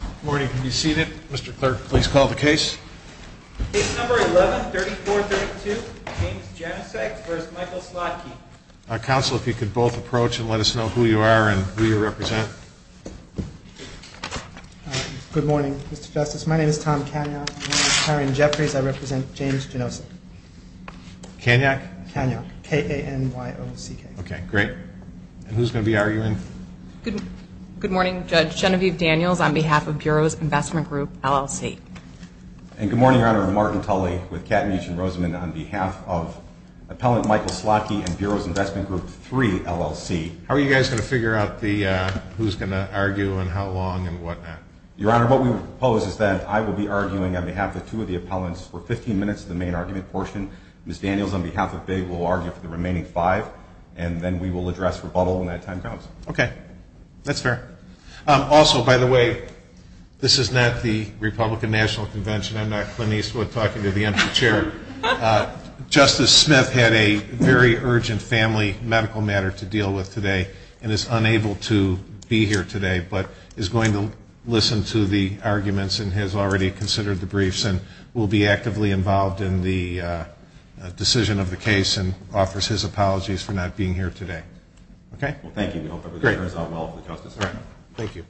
Good morning. Can you see that? Mr. Clair, please call the case. Case number 11-3432, James Jenosek v. Michael Slotky. Counsel, if you could both approach and let us know who you are and who you represent. Good morning, Mr. Justice. My name is Tom Kanyo. My name is Tom Jenosek. I represent James Jenosek. Kanyo? Kanyo. K-A-N-Y-O-C-K. Okay, great. Who's going to be arguing? Good morning, Judge Genevieve Daniels on behalf of Bureaus Investment Group, LLC. And good morning, Your Honor, I'm Martin Tully with Katniss and Rosamond on behalf of Appellant Michael Slotky and Bureaus Investment Group III, LLC. How are you guys going to figure out who's going to argue and how long and what not? Your Honor, what we propose is that I will be arguing on behalf of two of the appellants for 15 minutes in the main argument portion. Ms. Daniels on behalf of FIG will argue for the remaining five and then we will address rebuttal when that time comes. Okay. That's fair. Also, by the way, this is not the Republican National Convention. I'm not finished with talking to the empty chair. Justice Smith had a very urgent family medical matter to deal with today and is unable to be here today but is going to listen to the arguments and has already considered the briefs and will be actively involved in the decision of the case and offers his apologies for not being here today. Okay? Well, thank you. Great. Thank you.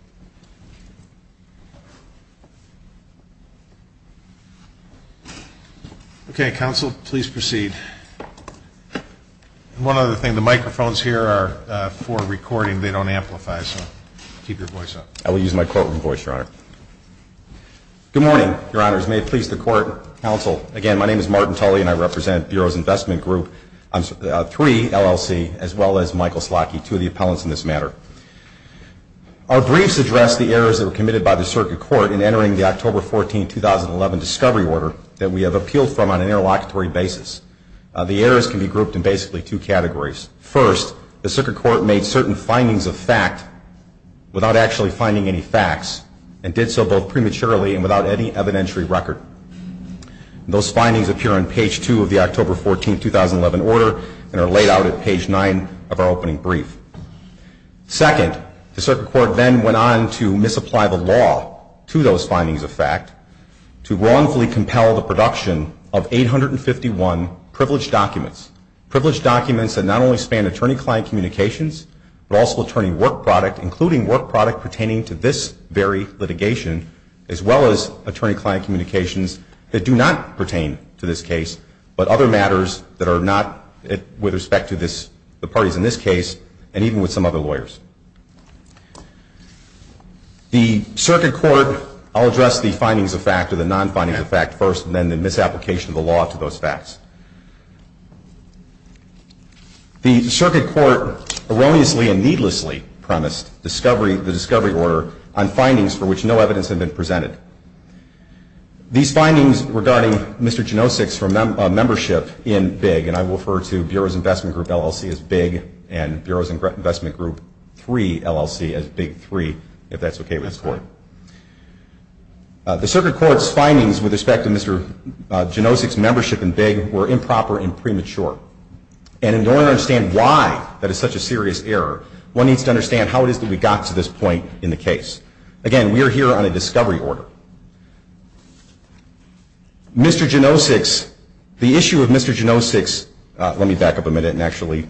Okay, counsel, please proceed. One other thing, the microphones here are for recording. They don't amplify, so keep your voice up. I will use my courtroom voice, Your Honor. Good morning, Your Honors. May it please the court, counsel. Again, my name is Martin Tully and I represent Bureau's Investment Group, 3 LLC, as well as Michael Slockey, two of the appellants in this matter. Our briefs address the errors that were committed by the Circuit Court in entering the October 14, 2011, discovery order that we have appealed from on an interlocutory basis. The errors can be grouped in basically two categories. First, the Circuit Court made certain findings of fact without actually finding any facts and did so both prematurely and without any evidentiary record. Those findings appear on page two of the October 14, 2011, order and are laid out at page nine of our opening brief. Second, the Circuit Court then went on to misapply the law to those findings of fact to wrongfully compel the production of 851 privileged documents, privileged documents that not only span attorney-client communications, but also attorney work product, including work product pertaining to this very litigation, as well as attorney-client communications that do not pertain to this case, but other matters that are not with respect to the parties in this case and even with some other lawyers. The Circuit Court, I'll address the findings of fact or the non-findings of fact first and then the misapplication of the law to those facts. The Circuit Court erroneously and needlessly premised the discovery order on findings for which no evidence had been presented. These findings regarding Mr. Janosik's membership in BIG, and I will refer to Bureau's Investment Group LLC as BIG and Bureau's Investment Group III LLC as BIG III, if that's okay with the Court. The Circuit Court's findings with respect to Mr. Janosik's membership in BIG were improper and premature, and in order to understand why that is such a serious error, one needs to understand how it is that we got to this point in the case. Again, we are here on a discovery order. Mr. Janosik's, the issue of Mr. Janosik's, let me back up a minute and actually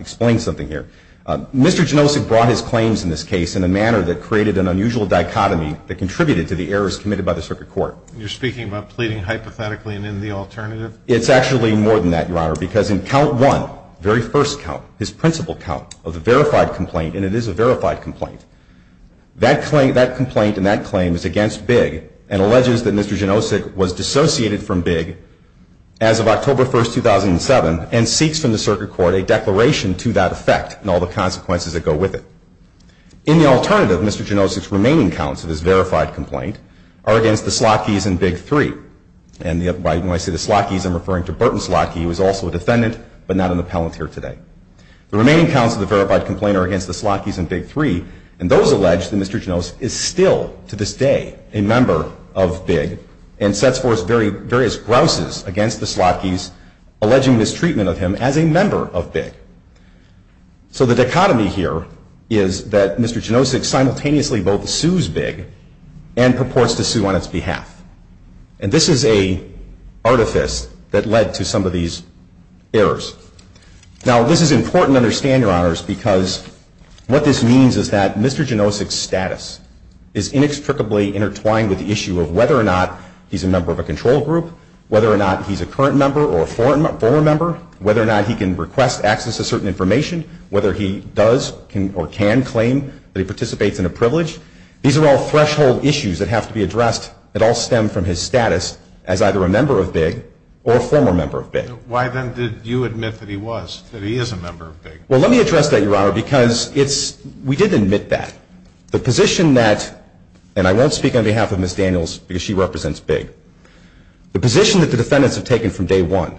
explain something here. Mr. Janosik brought his claims in this case in a manner that created an unusual dichotomy that contributed to the errors committed by the Circuit Court. You're speaking about pleading hypothetically and in the alternative? It's actually more than that, Your Honor, because in count one, very first count, his principal count of the verified complaint, and it is a verified complaint, that complaint and that claim is against BIG and alleges that Mr. Janosik was dissociated from BIG as of October 1, 2007 and seeks from the Circuit Court a declaration to that effect and all the consequences that go with it. In the alternative, Mr. Janosik's remaining counts of his verified complaint are against the Slotke's and BIG 3. And when I say the Slotke's, I'm referring to Burton Slotke, who is also a defendant, but not on the palance here today. The remaining counts of the verified complaint are against the Slotke's and BIG 3 and those alleged that Mr. Janosik is still, to this day, a member of BIG and sets forth various grouses against the Slotke's, alleging mistreatment of him as a member of BIG. So the dichotomy here is that Mr. Janosik simultaneously both sues BIG and purports to sue on its behalf. And this is an artifice that led to some of these errors. Now, this is important to understand, Your Honors, because what this means is that Mr. Janosik's status is inextricably intertwined with the issue of whether or not he's a member of a control group, whether or not he's a current member or a former member, whether or not he can request access to certain information, whether he does or can claim that he participates in a privilege. These are all threshold issues that have to be addressed that all stem from his status as either a member of BIG or a former member of BIG. Why then did you admit that he was, that he is a member of BIG? Well, let me address that, Your Honor, because we did admit that. The position that, and I won't speak on behalf of Ms. Daniels because she represents BIG, the position that the defendants have taken from day one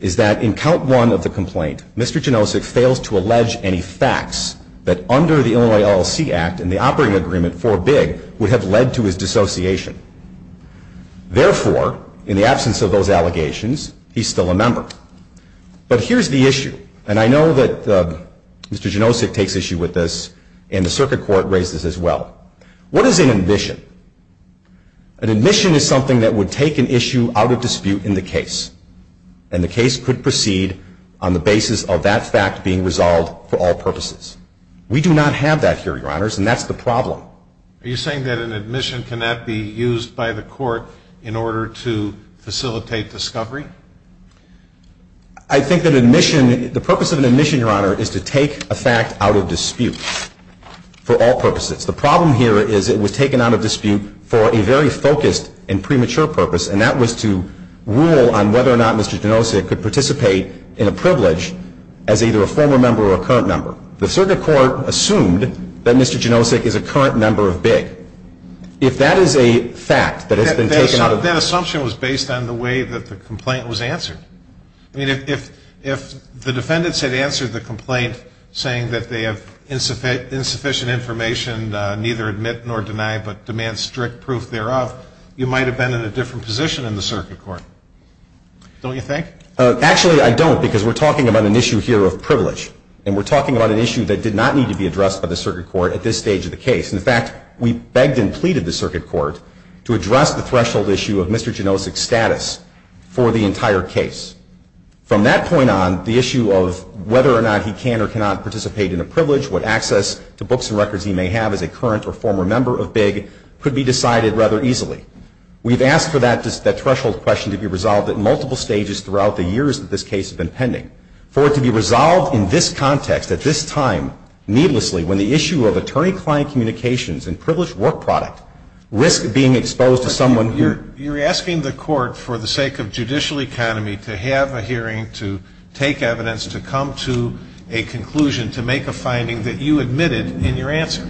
is that in count one of the complaint, Mr. Janosik fails to allege any facts that under the Illinois LLC Act and the operating agreement for BIG would have led to his dissociation. Therefore, in the absence of those allegations, he's still a member. But here's the issue, and I know that Mr. Janosik takes issue with this, and the circuit court raised this as well. What is an admission? An admission is something that would take an issue out of dispute in the case, and the case could proceed on the basis of that fact being resolved for all purposes. We do not have that here, Your Honors, and that's the problem. Are you saying that an admission cannot be used by the court in order to facilitate discovery? I think an admission, the purpose of an admission, Your Honor, is to take a fact out of dispute for all purposes. The problem here is it was taken out of dispute for a very focused and premature purpose, and that was to rule on whether or not Mr. Janosik could participate in a privilege as either a former member or a current member. The circuit court assumed that Mr. Janosik is a current member of BIG. If that is a fact that has been taken out of dispute. That assumption was based on the way that the complaint was answered. I mean, if the defendants had answered the complaint saying that they have insufficient information, and neither admit nor deny but demand strict proof thereof, you might have been in a different position in the circuit court. Don't you think? Actually, I don't, because we're talking about an issue here of privilege, and we're talking about an issue that did not need to be addressed by the circuit court at this stage of the case. In fact, we begged and pleaded the circuit court to address the threshold issue of Mr. Janosik's status for the entire case. From that point on, the issue of whether or not he can or cannot participate in a privilege, what access to books and records he may have as a current or former member of BIG, could be decided rather easily. We've asked for that threshold question to be resolved at multiple stages throughout the years that this case has been pending. For it to be resolved in this context, at this time, needlessly, when the issue of attorney-client communications and privileged work product risks being exposed to someone who… You're asking the court, for the sake of judicial economy, to have a hearing, to take evidence, to come to a conclusion, to make a finding that you admitted in your answer.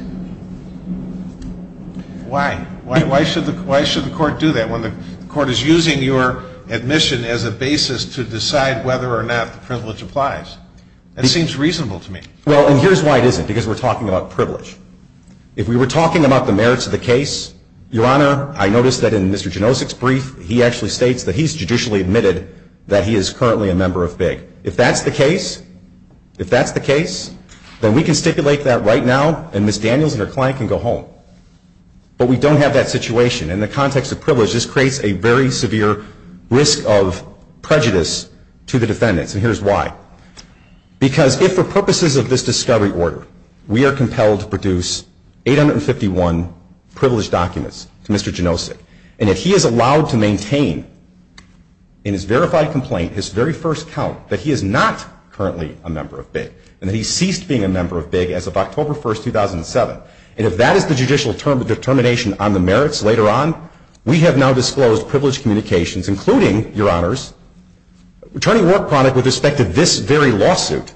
Why? Why should the court do that when the court is using your admission as a basis to decide whether or not privilege applies? That seems reasonable to me. Well, and here's why it isn't, because we're talking about privilege. If we were talking about the merits of the case, Your Honor, I noticed that in Mr. Janosik's brief, he actually states that he's judicially admitted that he is currently a member of BIG. If that's the case, if that's the case, then we can stipulate that right now, and Ms. Daniels and her client can go home. But we don't have that situation. In the context of privilege, this creates a very severe risk of prejudice to the defendants, and here's why. Because if, for purposes of this discovery order, we are compelled to produce 851 privileged documents to Mr. Janosik, and if he is allowed to maintain in his verified complaint his very first count that he is not currently a member of BIG, and that he ceased being a member of BIG as of October 1, 2007, and if that is the judicial term of determination on the merits later on, we have now disclosed privileged communications, including, Your Honors, returning work product with respect to this very lawsuit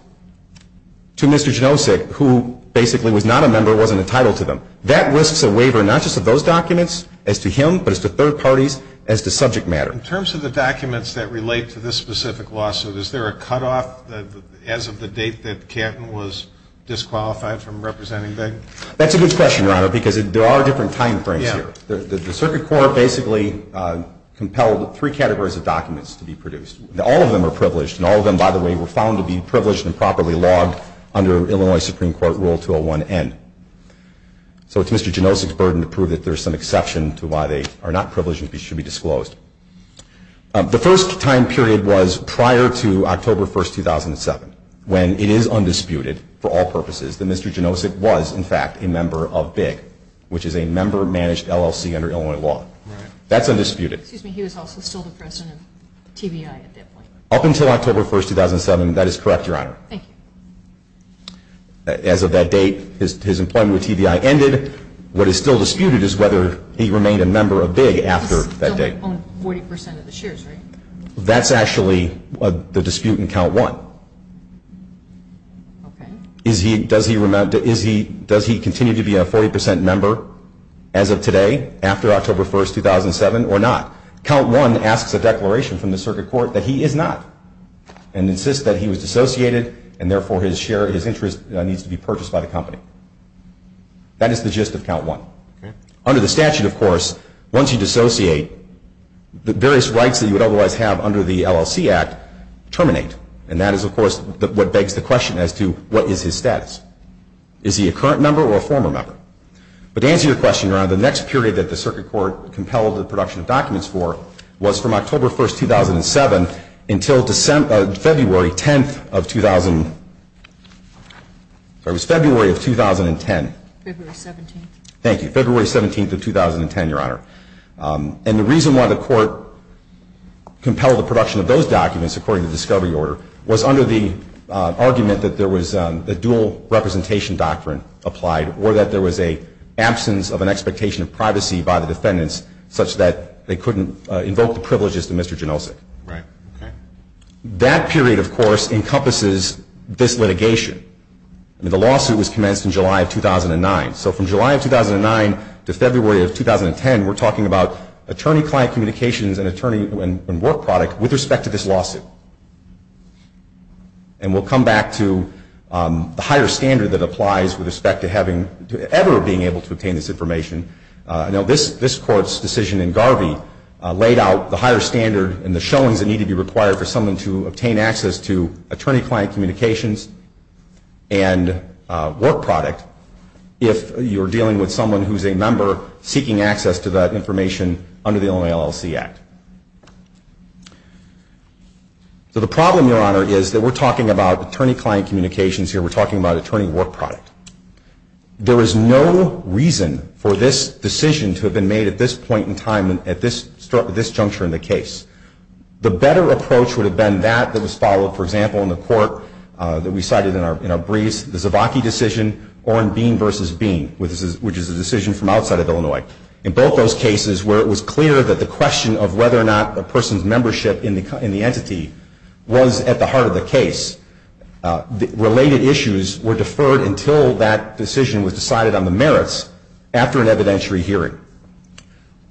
to Mr. Janosik, who basically was not a member, wasn't entitled to them. That risks a waiver, not just of those documents, as to him, but as to third parties, as to subject matter. In terms of the documents that relate to this specific lawsuit, is there a cutoff as of the date that Canton was disqualified from representing BIG? That's a good question, Your Honor, because there are different timeframes here. The Circuit Court basically compelled three categories of documents to be produced. All of them are privileged, and all of them, by the way, were found to be privileged and properly logged under Illinois Supreme Court Rule 201N. So it's Mr. Janosik's burden to prove that there is some exception to why they are not privileged and should be disclosed. The first time period was prior to October 1, 2007, when it is undisputed, for all purposes, that Mr. Janosik was, in fact, a member of BIG, which is a member-managed LLC under Illinois law. That's undisputed. Excuse me, he was also still the president of TBI at that point. Up until October 1, 2007, that is correct, Your Honor. Thank you. As of that date, his employment with TBI ended. What is still disputed is whether he remained a member of BIG after that date. On 40% of the shares, right? That's actually the dispute in Count 1. Okay. Does he continue to be a 40% member as of today, after October 1, 2007, or not? Count 1 asks a declaration from the circuit court that he is not, and insists that he was dissociated, and therefore his share, his interest needs to be purchased by the company. That is the gist of Count 1. Under the statute, of course, once you dissociate, the various rights that you would otherwise have under the LLC Act terminate. And that is, of course, what begs the question as to what is his debt. Is he a current member or a former member? To answer your question, Your Honor, the next period that the circuit court compelled the production of documents for was from October 1, 2007 until February 10, 2010. February 17. Thank you. February 17, 2010, Your Honor. And the reason why the court compelled the production of those documents, according to the discovery order, was under the argument that there was a dual representation doctrine applied, or that there was an absence of an expectation of privacy by the defendants, such that they couldn't invoke the privileges to Mr. Janosik. Right. That period, of course, encompasses this litigation. The lawsuit was commenced in July of 2009. So from July of 2009 to February of 2010, we're talking about attorney-client communications and work product with respect to this lawsuit. And we'll come back to the higher standard that applies with respect to ever being able to obtain this information. I know this court's decision in Garvey laid out the higher standard and the showings that need to be required for someone to obtain access to attorney-client communications and work product if you're dealing with someone who's a member seeking access to that information under the Illinois LLC Act. So the problem, Your Honor, is that we're talking about attorney-client communications here. We're talking about attorney work product. There is no reason for this decision to have been made at this point in time at this juncture in the case. The better approach would have been that that was followed, for example, in the court that we cited in our briefs, in the Zivaki decision or in Bean v. Bean, which is a decision from outside of Illinois. In both those cases where it was clear that the question of whether or not a person's membership in the entity was at the heart of the case, related issues were deferred until that decision was decided on the merits after an evidentiary hearing.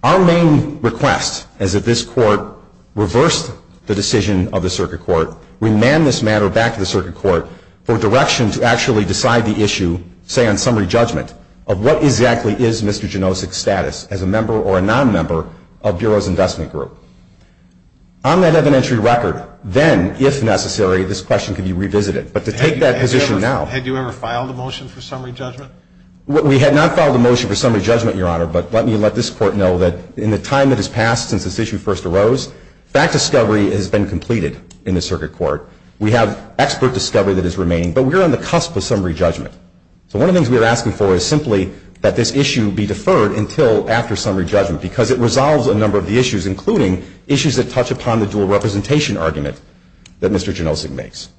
Our main request is that this court reverse the decision of the circuit court, remand this matter back to the circuit court for direction to actually decide the issue, say on summary judgment, of what exactly is Mr. Janosik's status as a member or a non-member of Bureau's investment group. On that evidentiary record, then, if necessary, this question could be revisited. But to take that position now. Had you ever filed a motion for summary judgment? We had not filed a motion for summary judgment, Your Honor, but let me let this court know that in the time that has passed since this issue first arose, that discovery has been completed in the circuit court. We have expert discovery that is remaining, but we're on the cusp of summary judgment. So one of the things we are asking for is simply that this issue be deferred until after summary judgment because it resolves a number of the issues, including issues that touch upon the dual representation argument that Mr. Janosik makes.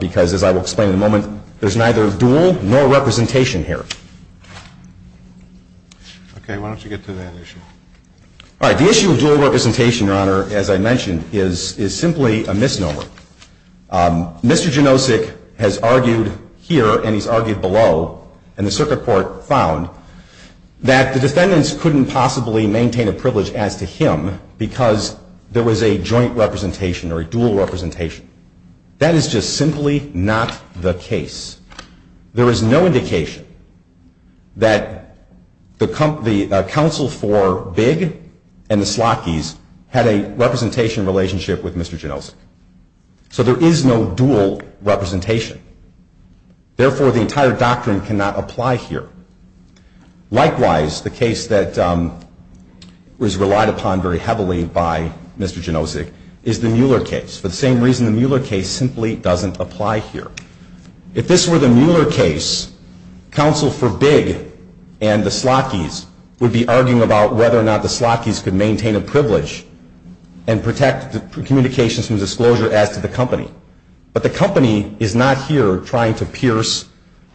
Because, as I will explain in a moment, there's neither dual nor representation here. Okay, why don't you get to that issue? All right, the issue of dual representation, Your Honor, as I mentioned, is simply a misnomer. Mr. Janosik has argued here, and he's argued below, and the circuit court found that the defendants couldn't possibly maintain a privilege as to him because there was a joint representation or a dual representation. That is just simply not the case. There is no indication that the counsel for Big and the Slockys had a representation relationship with Mr. Janosik. So there is no dual representation. Therefore, the entire doctrine cannot apply here. Likewise, the case that was relied upon very heavily by Mr. Janosik is the Mueller case, for the same reason the Mueller case simply doesn't apply here. If this were the Mueller case, counsel for Big and the Slockys would be arguing about whether or not the Slockys could maintain a privilege and protect communications and disclosure as to the company. But the company is not here trying to pierce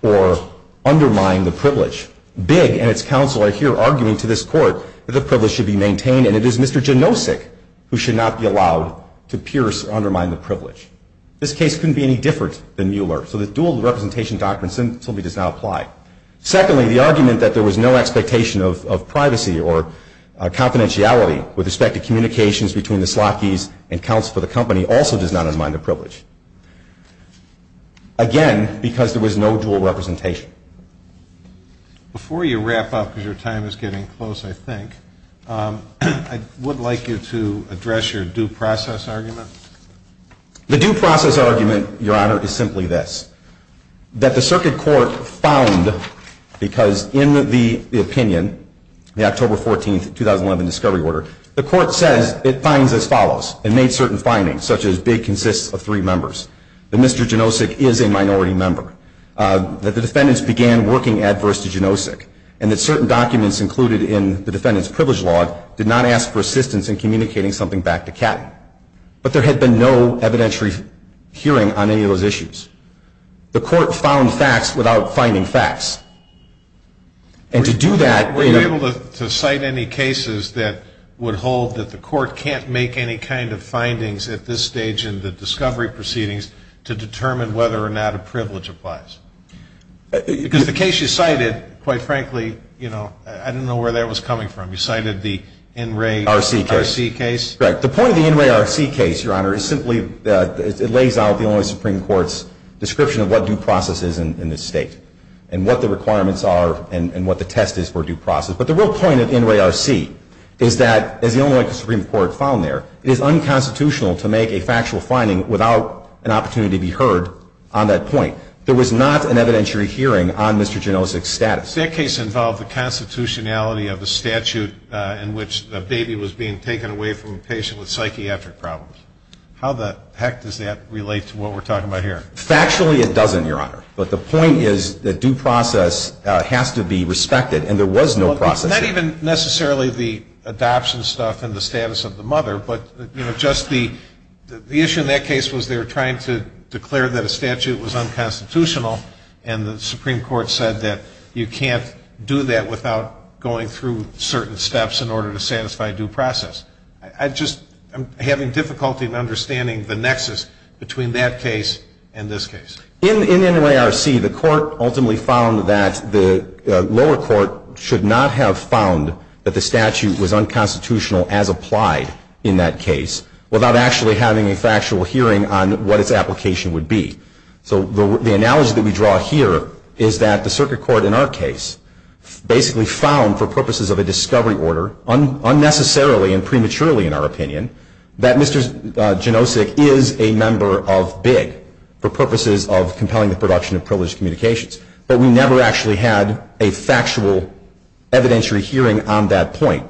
or undermine the privilege. Big and its counsel are here arguing to this court that the privilege should be maintained, and it is Mr. Janosik who should not be allowed to pierce or undermine the privilege. This case couldn't be any different than Mueller, so the dual representation doctrine simply does not apply. Secondly, the argument that there was no expectation of privacy or confidentiality with respect to communications between the Slockys and counsel for the company also does not undermine the privilege. Again, because there was no dual representation. Before you wrap up, because your time is getting close, I think, I would like you to address your due process argument. The due process argument, Your Honor, is simply this. That the circuit court found, because in the opinion, the October 14, 2011, discovery order, the court said it finds as follows, and made certain findings, such as Big consists of three members, that Mr. Janosik is a minority member, that the defendants began working adverse to Janosik, and that certain documents included in the defendant's privilege law did not ask for assistance in communicating something back to Catty. But there had been no evidentiary hearing on any of those issues. The court found facts without finding facts. And to do that, we have to cite any cases that would hold that the court can't make any kind of findings at this stage in the discovery proceedings to determine whether or not a privilege applies. Because the case you cited, quite frankly, you know, I didn't know where that was coming from. You cited the NRA RC case? Right. The point of the NRA RC case, Your Honor, is simply that it lays out the only Supreme Court's description of what due process is in this state, and what the requirements are, and what the test is for due process. But the real point of NRA RC is that, as the only way the Supreme Court found there, it is unconstitutional to make a factual finding without an opportunity to be heard on that point. There was not an evidentiary hearing on Mr. Janosik's status. That case involved the constitutionality of a statute in which a baby was being taken away from a patient with psychiatric problems. How the heck does that relate to what we're talking about here? Factually, it doesn't, Your Honor. But the point is that due process has to be respected, and there was no process. Not even necessarily the adoption stuff and the status of the mother, but, you know, just the issue in that case was they were trying to declare that a statute was unconstitutional, and the Supreme Court said that you can't do that without going through certain steps in order to satisfy due process. I just am having difficulty in understanding the nexus between that case and this case. In NRA RC, the court ultimately found that the lower court should not have found that the statute was unconstitutional as applied in that case without actually having a factual hearing on what its application would be. So the analogy that we draw here is that the circuit court in our case basically found, for purposes of a discovery order unnecessarily and prematurely, in our opinion, that Mr. Janosik is a member of BIG for purposes of compelling the production of privileged communications, but we never actually had a factual evidentiary hearing on that point.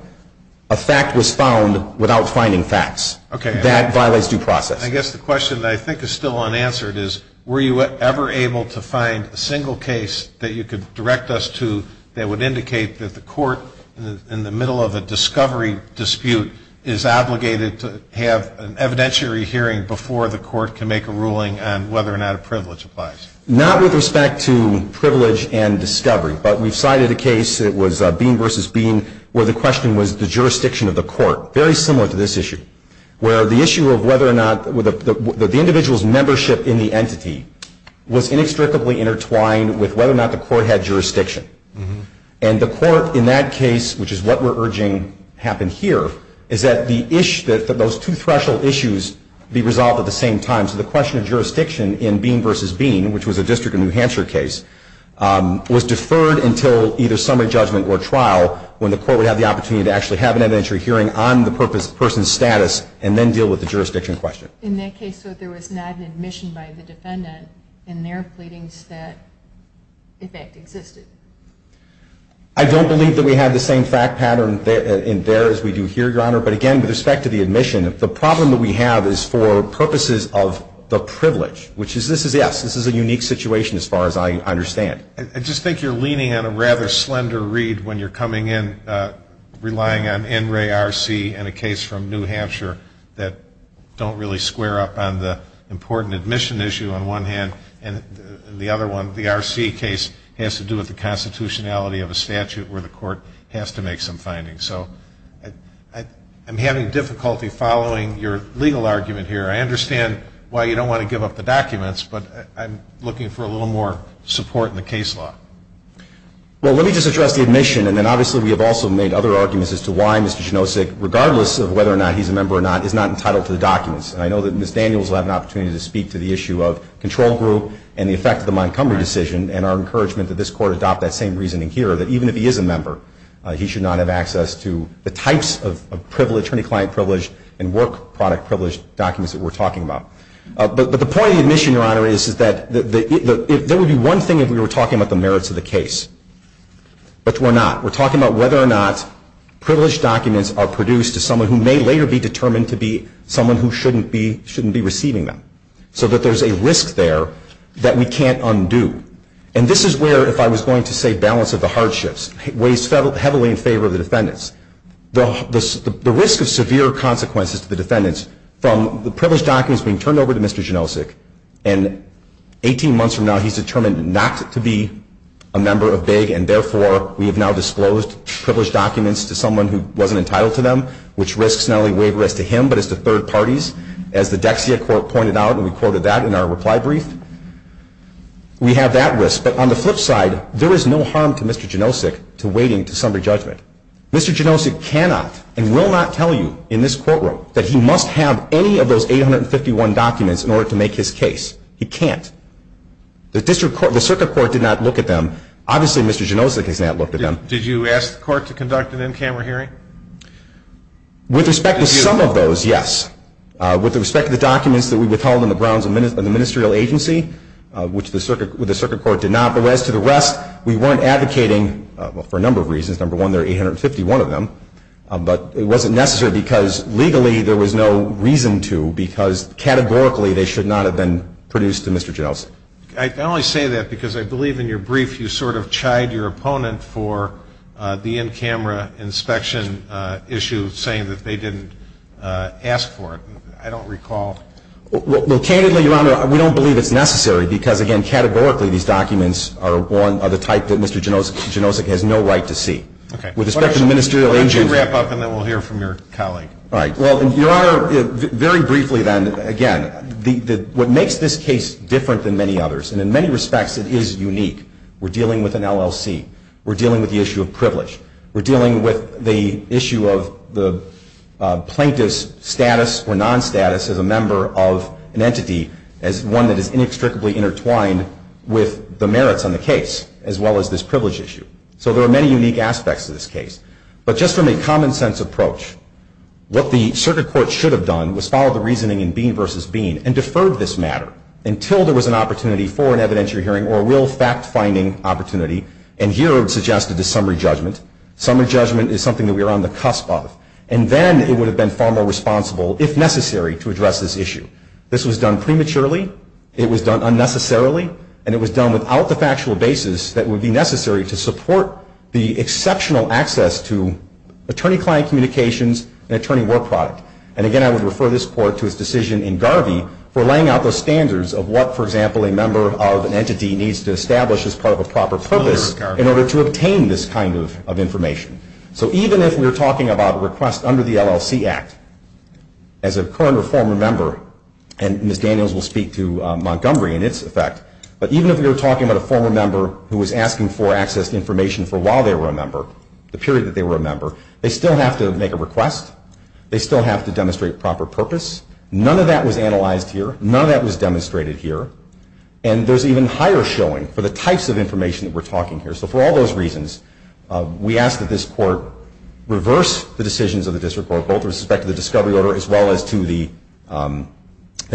A fact was found without finding facts. Okay. That violates due process. I guess the question that I think is still unanswered is were you ever able to find a single case that you could direct us to that would indicate that the court, in the middle of a discovery dispute, is obligated to have an evidentiary hearing before the court can make a ruling on whether or not a privilege applies? Not with respect to privilege and discovery, but we cited a case, it was Bean v. Bean, where the question was the jurisdiction of the court, very similar to this issue, where the issue of whether or not the individual's membership in the entity was inextricably intertwined with whether or not the court had jurisdiction. And the court, in that case, which is what we're urging happened here, is that those two threshold issues be resolved at the same time. So the question of jurisdiction in Bean v. Bean, which was a district of New Hampshire case, was deferred until either summary judgment or trial, when the court would have the opportunity to actually have an evidentiary hearing on the person's status and then deal with the jurisdiction question. In that case, though, there was not an admission by the defendant in their pleadings that, in fact, existed. I don't believe that we have the same fact pattern in there as we do here, Your Honor. But again, with respect to the admission, the problem that we have is for purposes of the privilege, which is, yes, this is a unique situation as far as I understand. I just think you're leaning on a rather slender reed when you're coming in, relying on NRA RC and a case from New Hampshire that don't really square up on the important admission issue on one hand, and the other one, the RC case, has to do with the constitutionality of a statute where the court has to make some findings. So I'm having difficulty following your legal argument here. I understand why you don't want to give up the documents, but I'm looking for a little more support in the case law. Well, let me just address the admission. And then, obviously, we have also made other arguments as to why Mr. Janosik, regardless of whether or not he's a member or not, is not entitled to the documents. And I know that Ms. Daniels will have an opportunity to speak to the issue of control group and the effect of the Montgomery decision and our encouragement that this court adopt that same reasoning here, that even if he is a member, he should not have access to the types of privilege, attorney-client privilege and work product privilege documents that we're talking about. But the point of the admission, Your Honor, is that there would be one thing if we were talking about the merits of the case, but we're not. We're talking about whether or not privilege documents are produced to someone who may later be determined to be someone who shouldn't be receiving them, so that there's a risk there that we can't undo. And this is where, if I was going to say balance of the hardships, weighs heavily in favor of the defendants. The risk of severe consequences to the defendants from the privilege documents being turned over to Mr. Janosik and 18 months from now he's determined not to be a member of BIG, and therefore we have now disclosed privilege documents to someone who wasn't entitled to them, which risks not only wavering to him, but it's to third parties. As the Dexia court pointed out, and we quoted that in our reply brief, we have that risk. But on the flip side, there is no harm to Mr. Janosik to waiting to summary judgment. Mr. Janosik cannot and will not tell you in this courtroom that he must have any of those 851 documents in order to make his case. He can't. The circuit court did not look at them. Obviously, Mr. Janosik has not looked at them. Did you ask the court to conduct an in-camera hearing? With respect to some of those, yes. With respect to the documents that we withheld in the Browns Administrative Agency, which the circuit court did not, but as to the rest, we weren't advocating for a number of reasons. Number one, there are 851 of them, but it wasn't necessary because legally there was no reason to because categorically they should not have been produced to Mr. Janosik. I only say that because I believe in your brief you sort of chide your opponent for the in-camera inspection issue, saying that they didn't ask for it. I don't recall. Well, candidly, Your Honor, we don't believe it's necessary because, again, categorically these documents are the type that Mr. Janosik has no right to see. Okay. Why don't you wrap up and then we'll hear from your colleague. All right. Well, Your Honor, very briefly then, again, what makes this case different than many others, and in many respects it is unique, we're dealing with an LLC. We're dealing with the issue of privilege. We're dealing with the issue of the plaintiff's status or non-status as a member of an entity as one that is inextricably intertwined with the merits on the case as well as this privilege issue. So there are many unique aspects to this case. But just from a common-sense approach, what the Circuit Court should have done was follow the reasoning in Bean v. Bean and deferred this matter until there was an opportunity for an evidentiary hearing or a real fact-finding opportunity, and here it suggested a summary judgment. Summary judgment is something that we are on the cusp of. And then it would have been far more responsible, if necessary, to address this issue. This was done prematurely. It was done unnecessarily. And it was done without the factual basis that would be necessary to support the exceptional access to attorney-client communications and attorney work product. And, again, I would refer this Court to its decision in Garvey for laying out the standards of what, for example, a member of an entity needs to establish as part of a proper purpose in order to obtain this kind of information. So even if we're talking about a request under the LLC Act, as a current or former member, and Ms. Daniels will speak to Montgomery and its effect, but even if we were talking about a former member who was asking for access to information for while they were a member, the period that they were a member, they still have to make a request. They still have to demonstrate a proper purpose. None of that was analyzed here. None of that was demonstrated here. And there's even higher showing for the types of information that we're talking here. So for all those reasons, we ask that this Court reverse the decisions of the District Court, both with respect to the discovery order as well as to the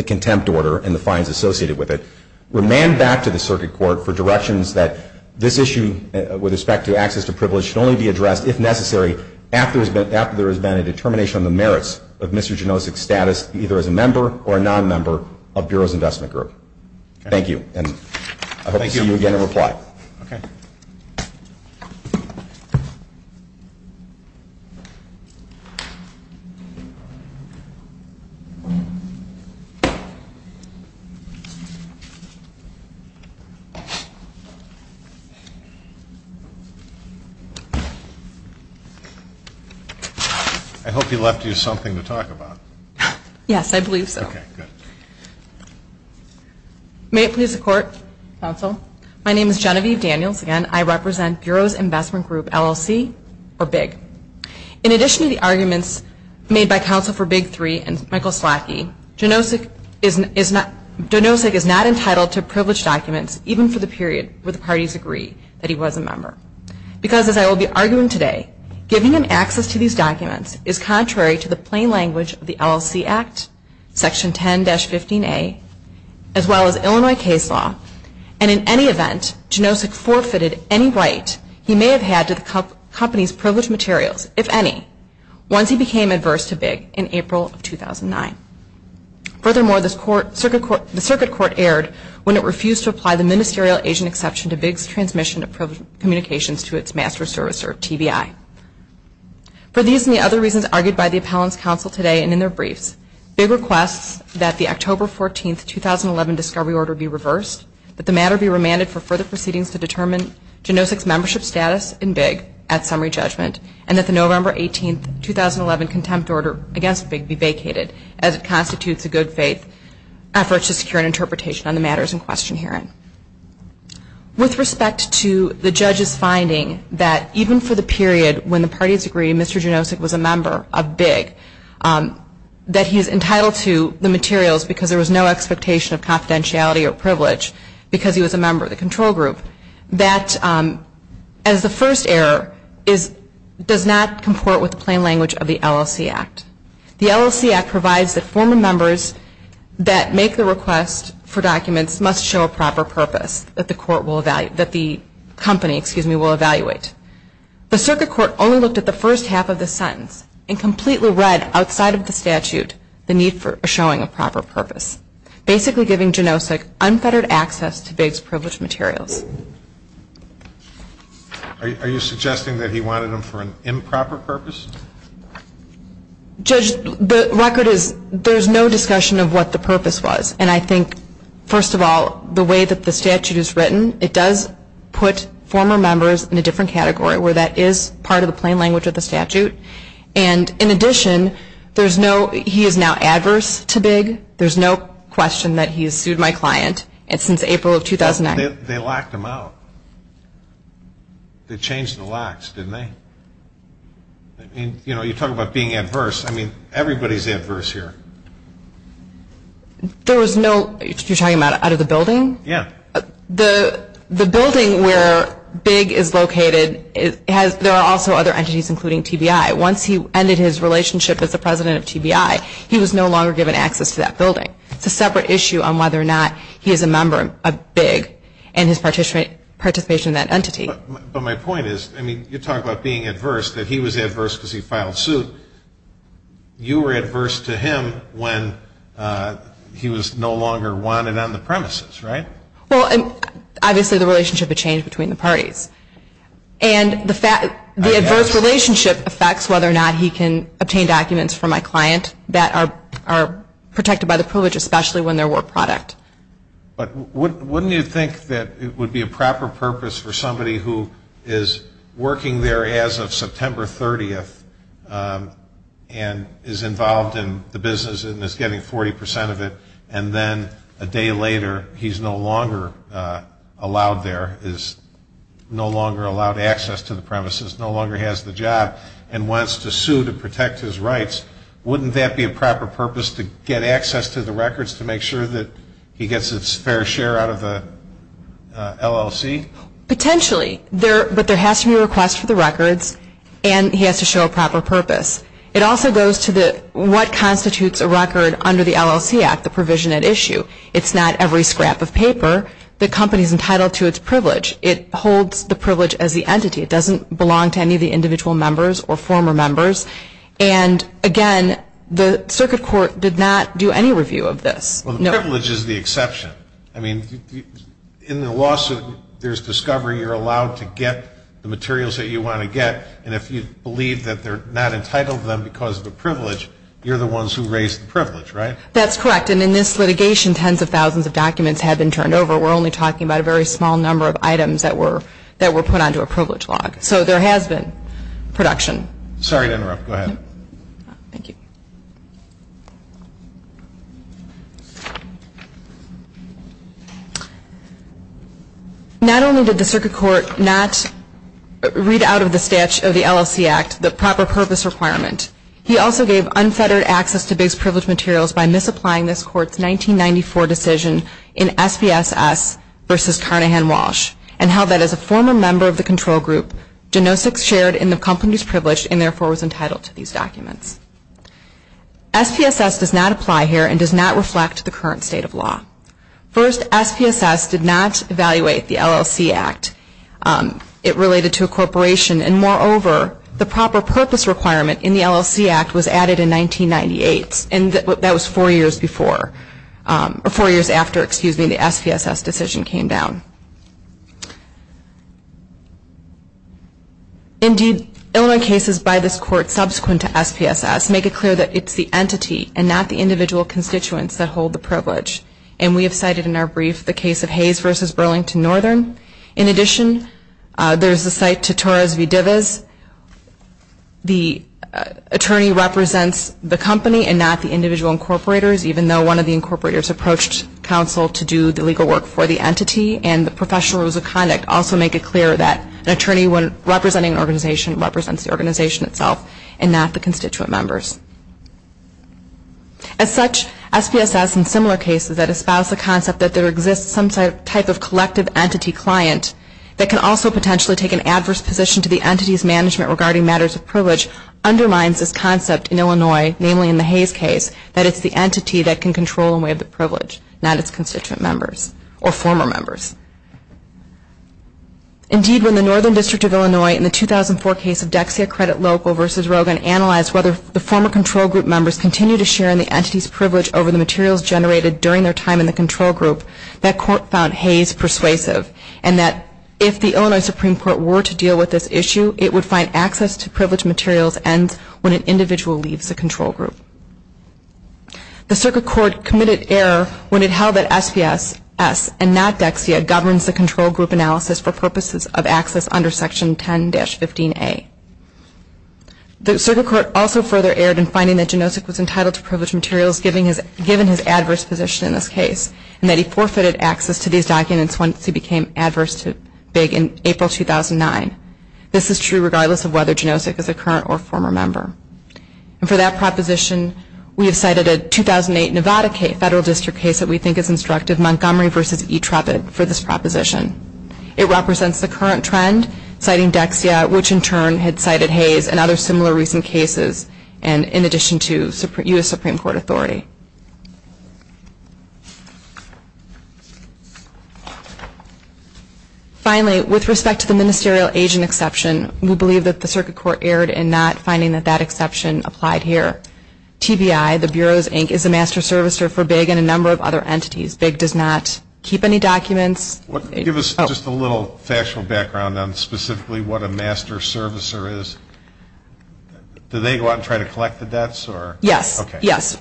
contempt order and the fines associated with it. Remand back to the Circuit Court for directions that this issue with respect to access to privilege should only be addressed, if necessary, after there has been a determination on the merits of Mr. Genovese's status, either as a member or a non-member of Bureau's Investment Group. Thank you, and I hope to see you again in reply. Okay. I hope he left you something to talk about. Yes, I believe so. Okay, good. May it please the Court, Counsel, my name is Genevieve Daniels, and I represent Bureau's Investment Group, LLC, or BIG. In addition to the arguments made by Counsel for BIG 3 and Michael Slackey, Donosek is not entitled to privileged documents, even for the period where the parties agree that he was a member. Because, as I will be arguing today, giving him access to these documents is contrary to the plain language of the LLC Act, Section 10-15A, as well as Illinois case law, and in any event, Donosek forfeited any right he may have had to the company's privileged materials, if any, once he became adverse to BIG in April of 2009. Furthermore, the Circuit Court erred when it refused to apply the ministerial agent exception to BIG's transmission of privileged communications to its master servicer, TBI. For these and the other reasons argued by the appellant's counsel today and in their briefs, BIG requests that the October 14, 2011, discovery order be reversed, that the matter be remanded for further proceedings to determine Donosek's membership status in BIG at summary judgment, and that the November 18, 2011, contempt order against BIG be vacated, as it constitutes a good faith effort to secure an interpretation on the matters in question herein. With respect to the judge's finding that even for the period when the parties agreed Mr. Donosek was a member of BIG, that he was entitled to the materials because there was no expectation of confidentiality or privilege, because he was a member of the control group, that, as the first error, does not comport with the plain language of the LLC Act. The LLC Act provides that former members that make the request for documents must show a proper purpose that the company will evaluate. The Circuit Court only looked at the first half of the sentence and completely read outside of the statute the need for showing a proper purpose, basically giving Donosek unfettered access to BIG's privileged materials. Are you suggesting that he wanted them for an improper purpose? Judge, the record is, there's no discussion of what the purpose was. And I think, first of all, the way that the statute is written, it does put former members in a different category where that is part of the plain language of the statute. And, in addition, there's no, he is now adverse to BIG. There's no question that he has sued my client since April of 2009. They locked him out. They changed the locks, didn't they? You know, you talk about being adverse. I mean, everybody's adverse here. There was no, you're talking about out of the building? Yeah. The building where BIG is located, there are also other entities, including TBI. Once he ended his relationship with the president of TBI, he was no longer given access to that building. It's a separate issue on whether or not he is a member of BIG and his participation in that entity. But my point is, I mean, you talk about being adverse, that he was adverse because he filed suit. You were adverse to him when he was no longer wanted on the premises, right? Well, obviously the relationship had changed between the parties. And the adverse relationship affects whether or not he can obtain documents from my client that are protected by the privilege, especially when there were products. But wouldn't you think that it would be a proper purpose for somebody who is working there as of September 30th and is involved in the business and is getting 40 percent of it, and then a day later he's no longer allowed there, is no longer allowed access to the premises, no longer has the job and wants to sue to protect his rights, wouldn't that be a proper purpose to get access to the records to make sure that he gets his fair share out of the LLC? Potentially, but there has to be a request for the records and he has to show a proper purpose. It also goes to what constitutes a record under the LLC Act, the provision at issue. It's not every scrap of paper. The company is entitled to its privilege. It holds the privilege as the entity. It doesn't belong to any of the individual members or former members. And, again, the circuit court did not do any review of this. Well, the privilege is the exception. I mean, in the lawsuit, there's discovery you're allowed to get the materials that you want to get. And if you believe that they're not entitled to them because of the privilege, you're the ones who raise the privilege, right? That's correct. And in this litigation, tens of thousands of documents have been turned over. We're only talking about a very small number of items that were put onto a privilege log. So there has been production. Sorry to interrupt. Go ahead. Thank you. Not only did the circuit court not read out of the statute of the LLC Act the proper purpose requirement, he also gave unfettered access to Biggs Privilege materials by misapplying this court's 1994 decision in SPSS versus Carnahan Walsh and held that as a former member of the control group, Genosik shared in the company's privilege and, therefore, was entitled to these documents. SPSS does not apply here and does not reflect the current state of law. First, SPSS did not evaluate the LLC Act. It related to a corporation and, moreover, the proper purpose requirement in the LLC Act was added in 1998. And that was four years before or four years after, excuse me, the SPSS decision came down. Indeed, Illinois cases by this court subsequent to SPSS make it clear that it's the entity and not the individual constituents that hold the privilege. And we have cited in our brief the case of Hayes versus Burlington Northern. In addition, there's the cite to Torres v. Divas. The attorney represents the company and not the individual incorporators, even though one of the incorporators approached counsel to do the legal work for the entity. And the professional rules of conduct also make it clear that an attorney representing an organization represents the organization itself and not the constituent members. As such, SPSS in similar cases that espouse the concept that there exists some type of collective entity client that can also potentially take an adverse position to the entity's management regarding matters of privilege underlines this concept in Illinois, namely in the Hayes case, that it's the entity that can control and waive the privilege, not its constituent members or former members. Indeed, when the Northern District of Illinois in the 2004 case of Dexia Credit Local versus Rogan analyzed whether the former control group members continue to share in the entity's privilege over the materials generated during their time in the control group, that court found Hayes persuasive and that if the Illinois Supreme Court were to deal with this issue, it would find access to privileged materials ends when an individual leaves the control group. The circuit court committed error when it held that SPSS and not Dexia governs the control group analysis for purposes of access under Section 10-15A. The circuit court also further erred in finding that Janosik was entitled to privileged materials given his adverse position in this case and that he forfeited access to these documents once he became adverse to FIG in April 2009. This is true regardless of whether Janosik is a current or former member. And for that proposition, we have cited a 2008 Nevada federal district case that we think is instructive, Montgomery versus E-Tropic, for this proposition. It represents the current trend, citing Dexia, which in turn had cited Hayes and other similar recent cases in addition to U.S. Supreme Court authority. Finally, with respect to the ministerial agent exception, we believe that the circuit court erred in not finding that that exception applied here. TBI, the Bureau's Inc., is a master servicer for BIG and a number of other entities. BIG does not keep any documents. Give us just a little factual background on specifically what a master servicer is. Do they go out and try to collect the debts? Yes. Okay. Yes.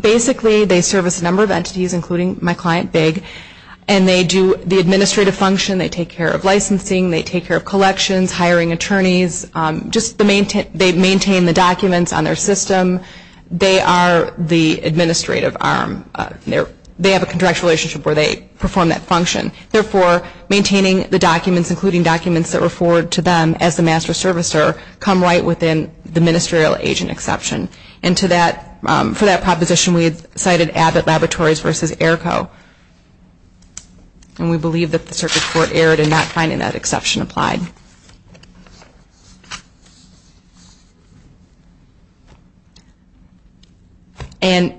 Basically, they service a number of entities, including my client, BIG, and they do the administrative function. They take care of licensing. They take care of collections, hiring attorneys. They maintain the documents on their system. They are the administrative arm. They have a contractual relationship where they perform that function. Therefore, maintaining the documents, including documents that were forwarded to them as the master servicer, come right within the ministerial agent exception. And for that proposition, we have cited Abbott Laboratories versus AERCO, and we believe that the circuit court erred in not finding that exception applied. And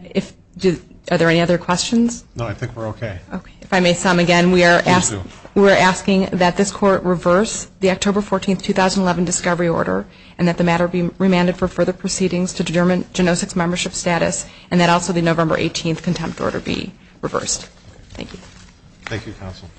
are there any other questions? No, I think we're okay. Okay. If I may sum again, we are asking that this court reverse the October 14, 2011, discovery order and that the matter be remanded for further proceedings to determine genosis membership status and that also the November 18 contempt order be reversed. Thank you. Thank you, counsel.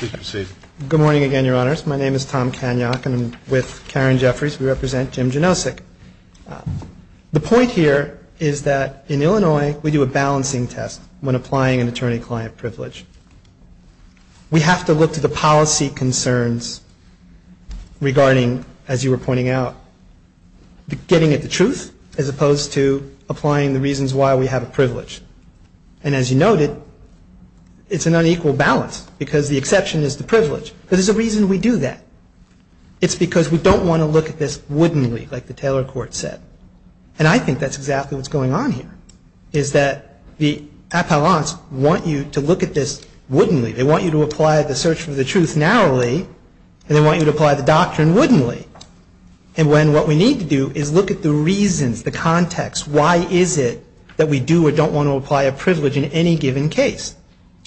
Thank you. Good morning again, Your Honors. My name is Tom Kaniok. I'm with Karen Jeffries. We represent Jim Genosik. The point here is that in Illinois, we do a balancing test when applying an attorney-client privilege. We have to look to the policy concerns regarding, as you were pointing out, getting at the truth as opposed to applying the reasons why we have a privilege. And as you noted, it's an unequal balance because the exception is the privilege. There's a reason we do that. It's because we don't want to look at this wouldn't we, like the Taylor Court said. And I think that's exactly what's going on here, is that the appellants want you to look at this wouldn't we. They want you to apply the search for the truth narrowly, and they want you to apply the doctrine wouldn't we. And when what we need to do is look at the reasons, the context, why is it that we do or don't want to apply a privilege in any given case.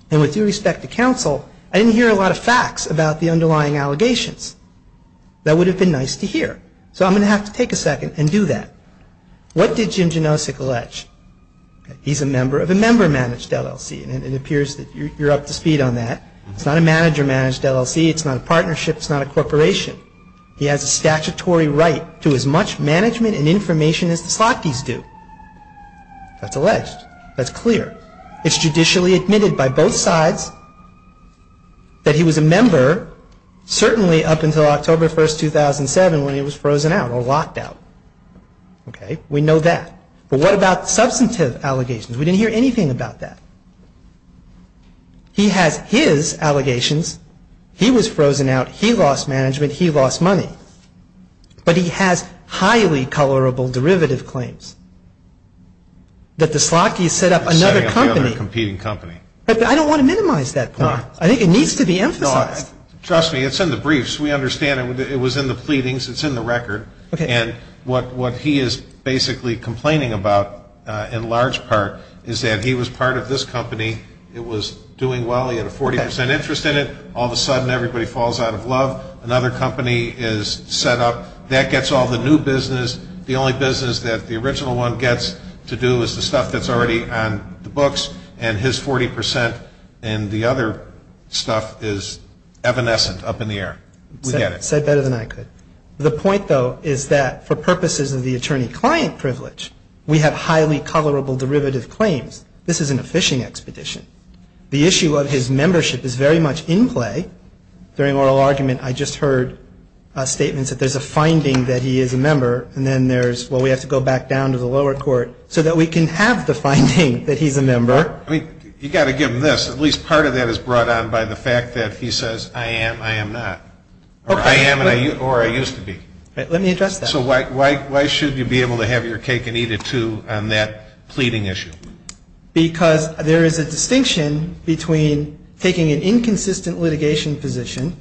And with due respect to counsel, I didn't hear a lot of facts about the underlying allegations. That would have been nice to hear. So I'm going to have to take a second and do that. What did Jim Genosik allege? He's a member of a member-managed LLC, and it appears that you're up to speed on that. It's not a manager-managed LLC. It's not a partnership. It's not a corporation. It's not a corporation. He has a statutory right to as much management and information as the parties do. That's alleged. That's clear. It's judicially admitted by both sides that he was a member, certainly up until October 1, 2007 when he was frozen out or locked out. Okay, we know that. But what about substantive allegations? We didn't hear anything about that. He had his allegations. He was frozen out. He lost management. He lost money. But he has highly colorable derivative claims that the Slotgees set up another company. I don't want to minimize that point. I think it needs to be emphasized. Trust me, it's in the briefs. We understand it. It was in the pleadings. It's in the record. And what he is basically complaining about in large part is that he was part of this company. It was doing well. He had a 40% interest in it. All of a sudden, everybody falls out of love. Another company is set up. That gets all the new business. The only business that the original one gets to do is the stuff that's already on the books. And his 40% and the other stuff is evanescent, up in the air. We get it. Said better than I could. The point, though, is that for purposes of the attorney-client privilege, we have highly colorable derivative claims. This isn't a fishing expedition. The issue of his membership is very much in play. During oral argument, I just heard statements that there's a finding that he is a member, and then there's, well, we have to go back down to the lower court so that we can have the finding that he's a member. You've got to give him this. At least part of that is brought on by the fact that he says, I am, I am not, or I am, or I used to be. Let me address that. So why should you be able to have your cake and eat it, too, on that pleading issue? Because there is a distinction between taking an inconsistent litigation position,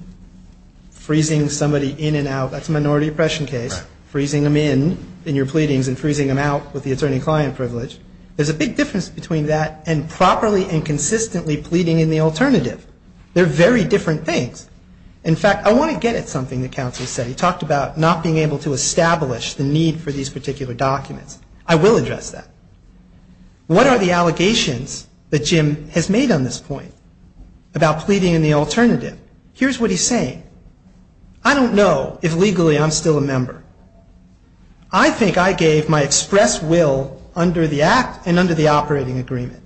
freezing somebody in and out. That's a minority oppression case. Freezing them in in your pleadings and freezing them out with the attorney-client privilege. There's a big difference between that and properly and consistently pleading in the alternative. They're very different things. In fact, I want to get at something the counsel said. He talked about not being able to establish the need for these particular documents. I will address that. What are the allegations that Jim has made on this point about pleading in the alternative? Here's what he's saying. I don't know if legally I'm still a member. I think I gave my express will under the act and under the operating agreement.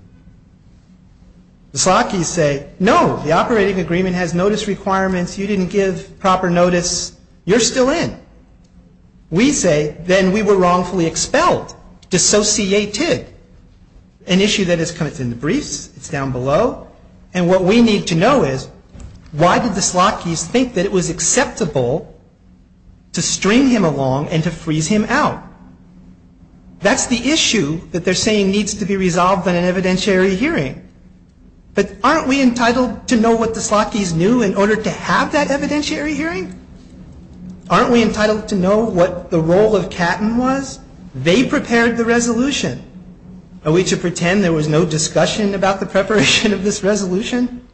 The Slockys say, no, the operating agreement has notice requirements. You didn't give proper notice. You're still in. We say, then we were wrongfully expelled. Dissociated. An issue that has come up in the briefs. It's down below. And what we need to know is, why did the Slockys think that it was acceptable to string him along and to freeze him out? That's the issue that they're saying needs to be resolved in an evidentiary hearing. But aren't we entitled to know what the Slockys knew in order to have that evidentiary hearing? Aren't we entitled to know what the role of Catton was? They prepared the resolution. Are we to pretend there was no discussion about the preparation of this resolution?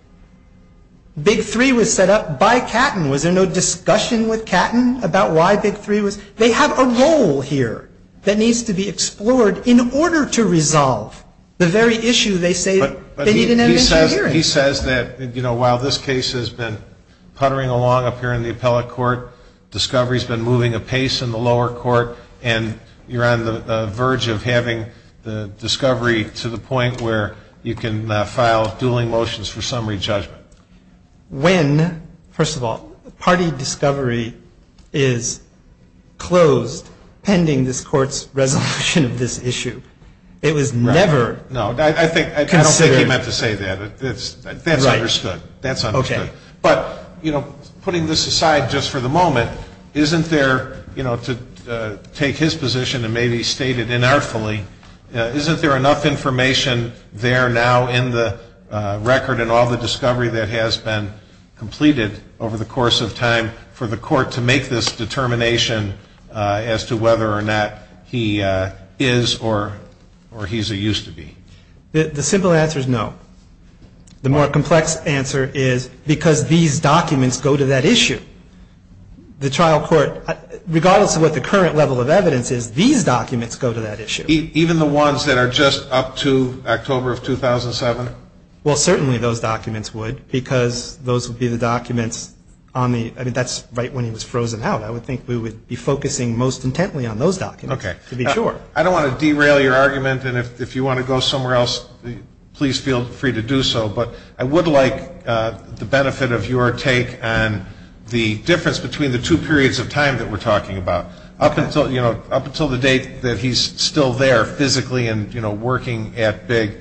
Big Three was set up by Catton. Was there no discussion with Catton about why Big Three was? They have a role here that needs to be explored in order to resolve the very issue they say they need an evidentiary hearing. He says that, you know, while this case has been puttering along up here in the appellate court, discovery has been moving apace in the lower court, and you're on the verge of having the discovery to the point where you can file dueling motions for summary judgment. When, first of all, party discovery is closed pending this court's resolution of this issue, it was never. No, I think you don't have to say that. That's understood. But, you know, putting this aside just for the moment, isn't there, you know, to take his position that may be stated inartfully, isn't there enough information there now in the record and all the discovery that has been completed over the course of time for the court to make this determination as to whether or not he is or he's a used to be? The simple answer is no. The more complex answer is because these documents go to that issue. The trial court, regardless of what the current level of evidence is, these documents go to that issue. Even the ones that are just up to October of 2007? Well, certainly those documents would because those would be the documents on the, I mean, that's right when he was frozen out. I would think we would be focusing most intently on those documents to be sure. Okay. I don't want to derail your argument, and if you want to go somewhere else, please feel free to do so, but I would like the benefit of your take on the difference between the two periods of time that we're talking about. Up until the date that he's still there physically and, you know, working at big,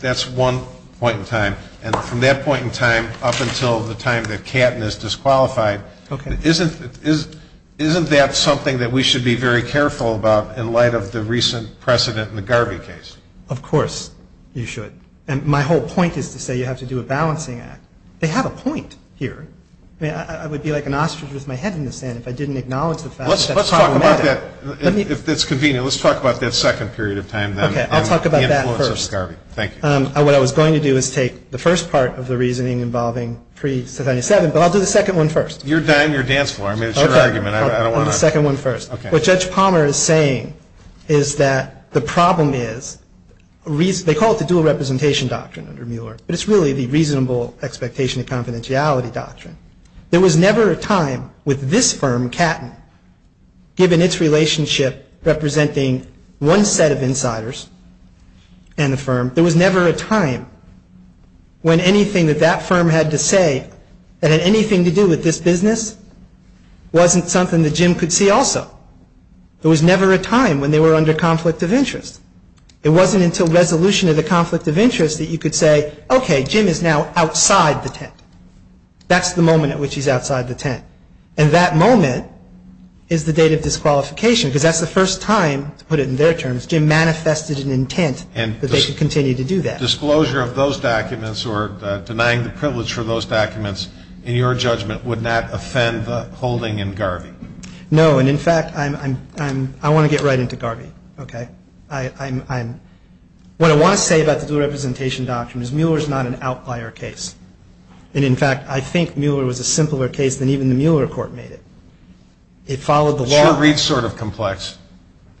that's one point in time, and from that point in time up until the time that Catton is disqualified, isn't that something that we should be very careful about in light of the recent precedent in the Garvey case? Of course you should. And my whole point is to say you have to do a balancing act. They have a point here. I mean, I would be like an ostrich with my head in the sand if I didn't acknowledge the fact that that's problematic. Let's talk about that. If it's convenient, let's talk about that second period of time then. Okay. I'll talk about that first. Thank you. What I was going to do is take the first part of the reasoning involving pre-2007, but I'll do the second one first. You're on your dance floor. I mean, it's your argument. I don't want to. I'll do the second one first. Okay. What Judge Palmer is saying is that the problem is, they call it the dual representation doctrine under Mueller, but it's really the reasonable expectation of confidentiality doctrine. There was never a time with this firm, Catton, given its relationship representing one set of insiders in the firm, there was never a time when anything that that firm had to say that had anything to do with this business wasn't something that Jim could see also. There was never a time when they were under conflict of interest. It wasn't until resolution of the conflict of interest that you could say, okay, Jim is now outside the tent. That's the moment at which he's outside the tent. And that moment is the date of disqualification because that's the first time, to put it in their terms, Jim manifested an intent that they should continue to do that. The disclosure of those documents or denying the privilege for those documents, in your judgment, would not offend the holding in Garvey? No. And, in fact, I want to get right into Garvey. Okay. What I want to say about the dual representation doctrine is Mueller is not an outlier case. And, in fact, I think Mueller was a simpler case than even the Mueller report made it. It followed the law. It's sort of complex.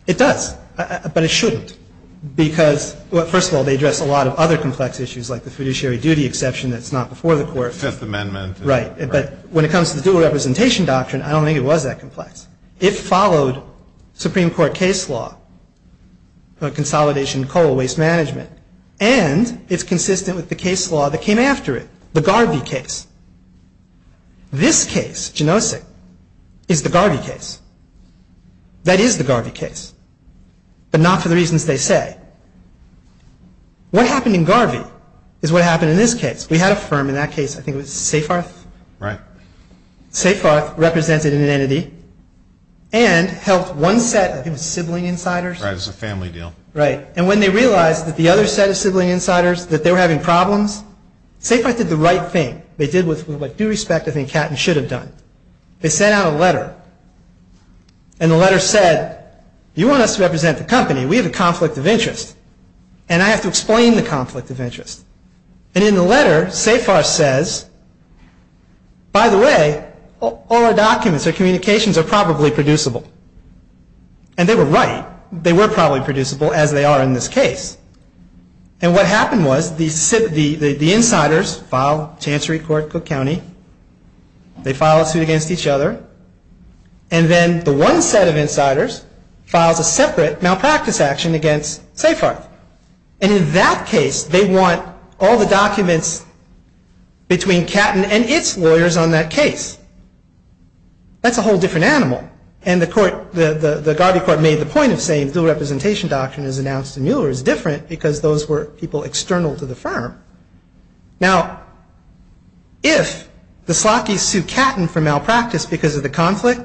It does. But it shouldn't. Because, well, first of all, they address a lot of other complex issues, like the fiduciary duty exception that's not before the court. Fifth Amendment. Right. But when it comes to the dual representation doctrine, I don't think it was that complex. It followed Supreme Court case law on consolidation of coal waste management. And it's consistent with the case law that came after it, the Garvey case. This case, do you notice it, is the Garvey case. That is the Garvey case. But not for the reasons they say. What happened in Garvey is what happened in this case. We had a firm in that case. I think it was Safarth? Right. Safarth represented an entity and helped one set of sibling insiders. Right. It was a family deal. Right. And when they realized that the other set of sibling insiders, that they were having problems, Safarth did the right thing. They did what, with due respect, I think Catton should have done. They sent out a letter. And the letter said, you want us to represent the company. We have a conflict of interest. And I have to explain the conflict of interest. And in the letter, Safarth says, by the way, all the documents, the communications are probably producible. And they were right. They were probably producible, as they are in this case. And so, the company, they file a suit against each other. And then the one set of insiders filed a separate malpractice action against Safarth. And in that case, they want all the documents between Catton and its lawyers on that case. That's a whole different animal. And the Garvey court made the point of saying dual representation documents announced in Mueller is different because those were people external to the firm. Now, if the Slockys sue Catton for malpractice because of the conflict,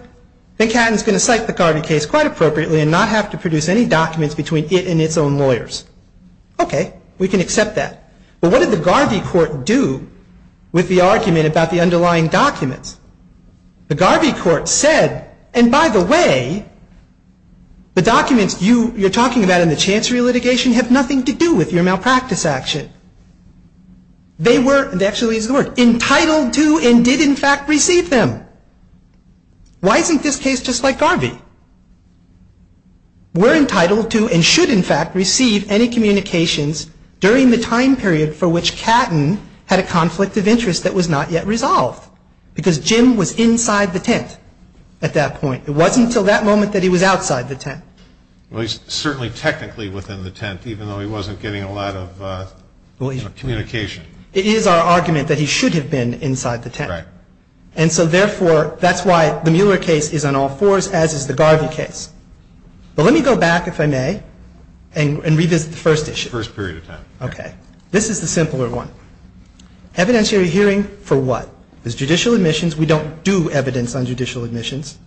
then Catton is going to cite the Garvey case quite appropriately and not have to produce any documents between it and its own lawyers. Okay, we can accept that. But what did the Garvey court do with the argument about the underlying documents? The Garvey court said, and by the way, the documents you're talking about in the chancery litigation have nothing to do with your malpractice action. They were entitled to and did, in fact, receive them. Why isn't this case just like Garvey? We're entitled to and should, in fact, receive any communications during the time period for which Catton had a conflict of interest that was not yet resolved because Jim was inside the tent at that point. It wasn't until that moment that he was outside the tent. Well, he's certainly technically within the tent even though he wasn't getting a lot of communication. It is our argument that he should have been inside the tent. Right. And so, therefore, that's why the Mueller case is on all fours as is the Garvey case. But let me go back, if I may, and revisit the first issue. First period of time. Okay. This is the simpler one. Evidentiary hearing for what? There's judicial admissions. We don't do evidence on judicial admissions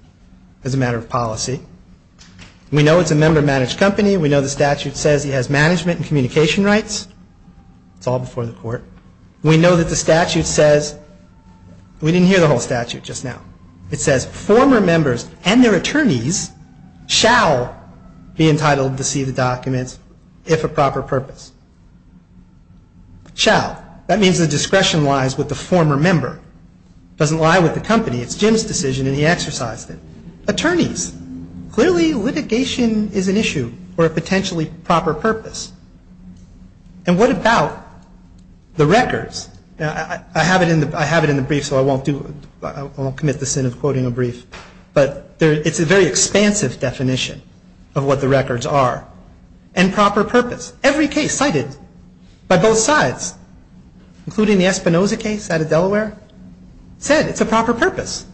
as a matter of policy. We know it's a member-managed company. We know the statute says it has management and communication rights. It's all before the court. We know that the statute says, we didn't hear the whole statute just now. It says former members and their attorneys shall be entitled to see the documents if a proper purpose. Shall. That means the discretion lies with the former member. It doesn't lie with the company. It's Jim's decision and he exercised it. Attorneys. Clearly, litigation is an issue for a potentially proper purpose. And what about the records? I have it in the brief, so I won't commit the sin of quoting a brief. But it's a very expansive definition of what the records are. And proper purpose. Every case cited by both sides, including the Espinoza case out of Delaware, said it's a proper purpose.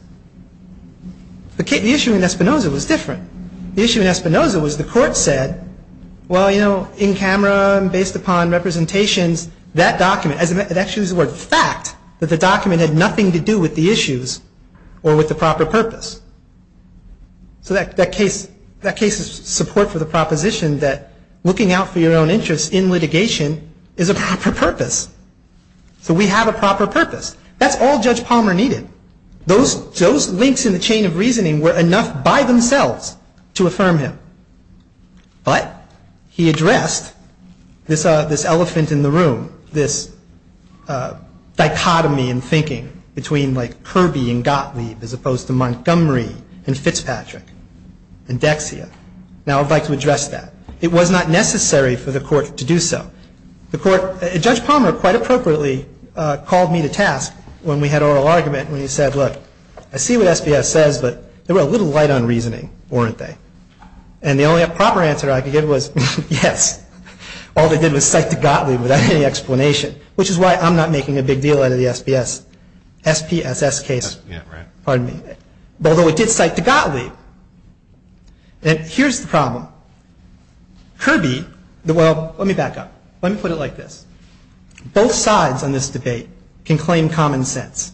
The issue in Espinoza was different. The issue in Espinoza was the court said, well, you know, in camera and based upon representations, that document, it actually was a fact that the document had nothing to do with the issues or with the proper purpose. So that case is support for the proposition that looking out for your own interests in litigation is a proper purpose. So we have a proper purpose. That's all Judge Palmer needed. He didn't need to say anything. Those links in the chain of reasoning were enough by themselves to affirm him. But he addressed this elephant in the room, this dichotomy in thinking between like Kirby and Gottlieb as opposed to Montgomery and Fitzpatrick and Dexia. Now, I'd like to address that. It was not necessary for the court to do so. Judge Palmer quite appropriately called me to task when we had oral argument when he said, look, I see what SPS says, but they were a little light on reasoning, weren't they? And the only proper answer I could give was yes. All they did was cite to Gottlieb without any explanation, which is why I'm not making a big deal out of the SPS. SPSS case, pardon me. Although it did cite to Gottlieb. Here's the problem. Kirby, well, let me back up. Let me put it like this. Both sides on this debate can claim common sense.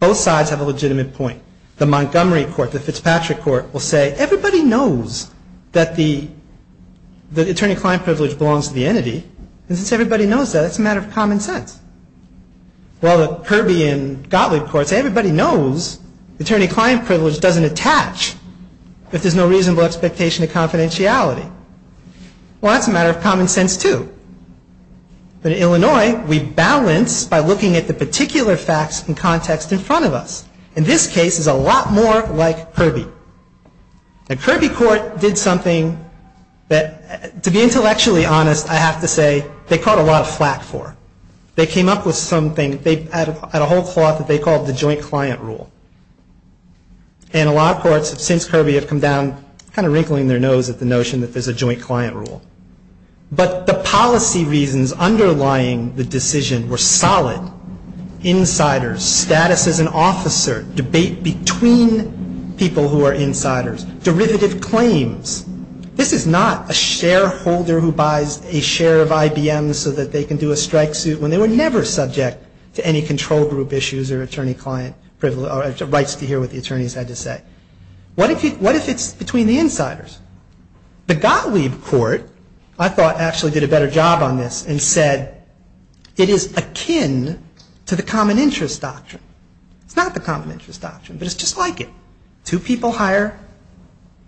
Both sides have a legitimate point. The Montgomery court, the Fitzpatrick court will say, everybody knows that the attorney-client privilege belongs to the entity. And since everybody knows that, it's a matter of common sense. While the Kirby and Gottlieb courts, everybody knows attorney-client privilege doesn't attach if there's no reasonable expectation of confidentiality. Well, that's a matter of common sense, too. In Illinois, we balance by looking at the particular facts and context in front of us. In this case, it's a lot more like Kirby. The Kirby court did something that, to be intellectually honest, I have to say, they caught a lot of slack for. They came up with something. They had a whole clause that they called the joint client rule. And a lot of courts, since Kirby, have come down kind of wrinkling their nose at the notion that there's a joint client rule. But the policy reasons underlying the decision were solid. Insiders, status as an officer, debate between people who are insiders, derivative claims. This is not a shareholder who buys a share of IBM so that they can do a strike suit when they were never subject to any control group issues or attorney-client privilege or rights to hear what the attorneys had to say. What is it between the insiders? The Gottlieb court, I thought, actually did a better job on this and said, it is akin to the common interest doctrine. It's not the common interest doctrine, but it's just like it. Two people hire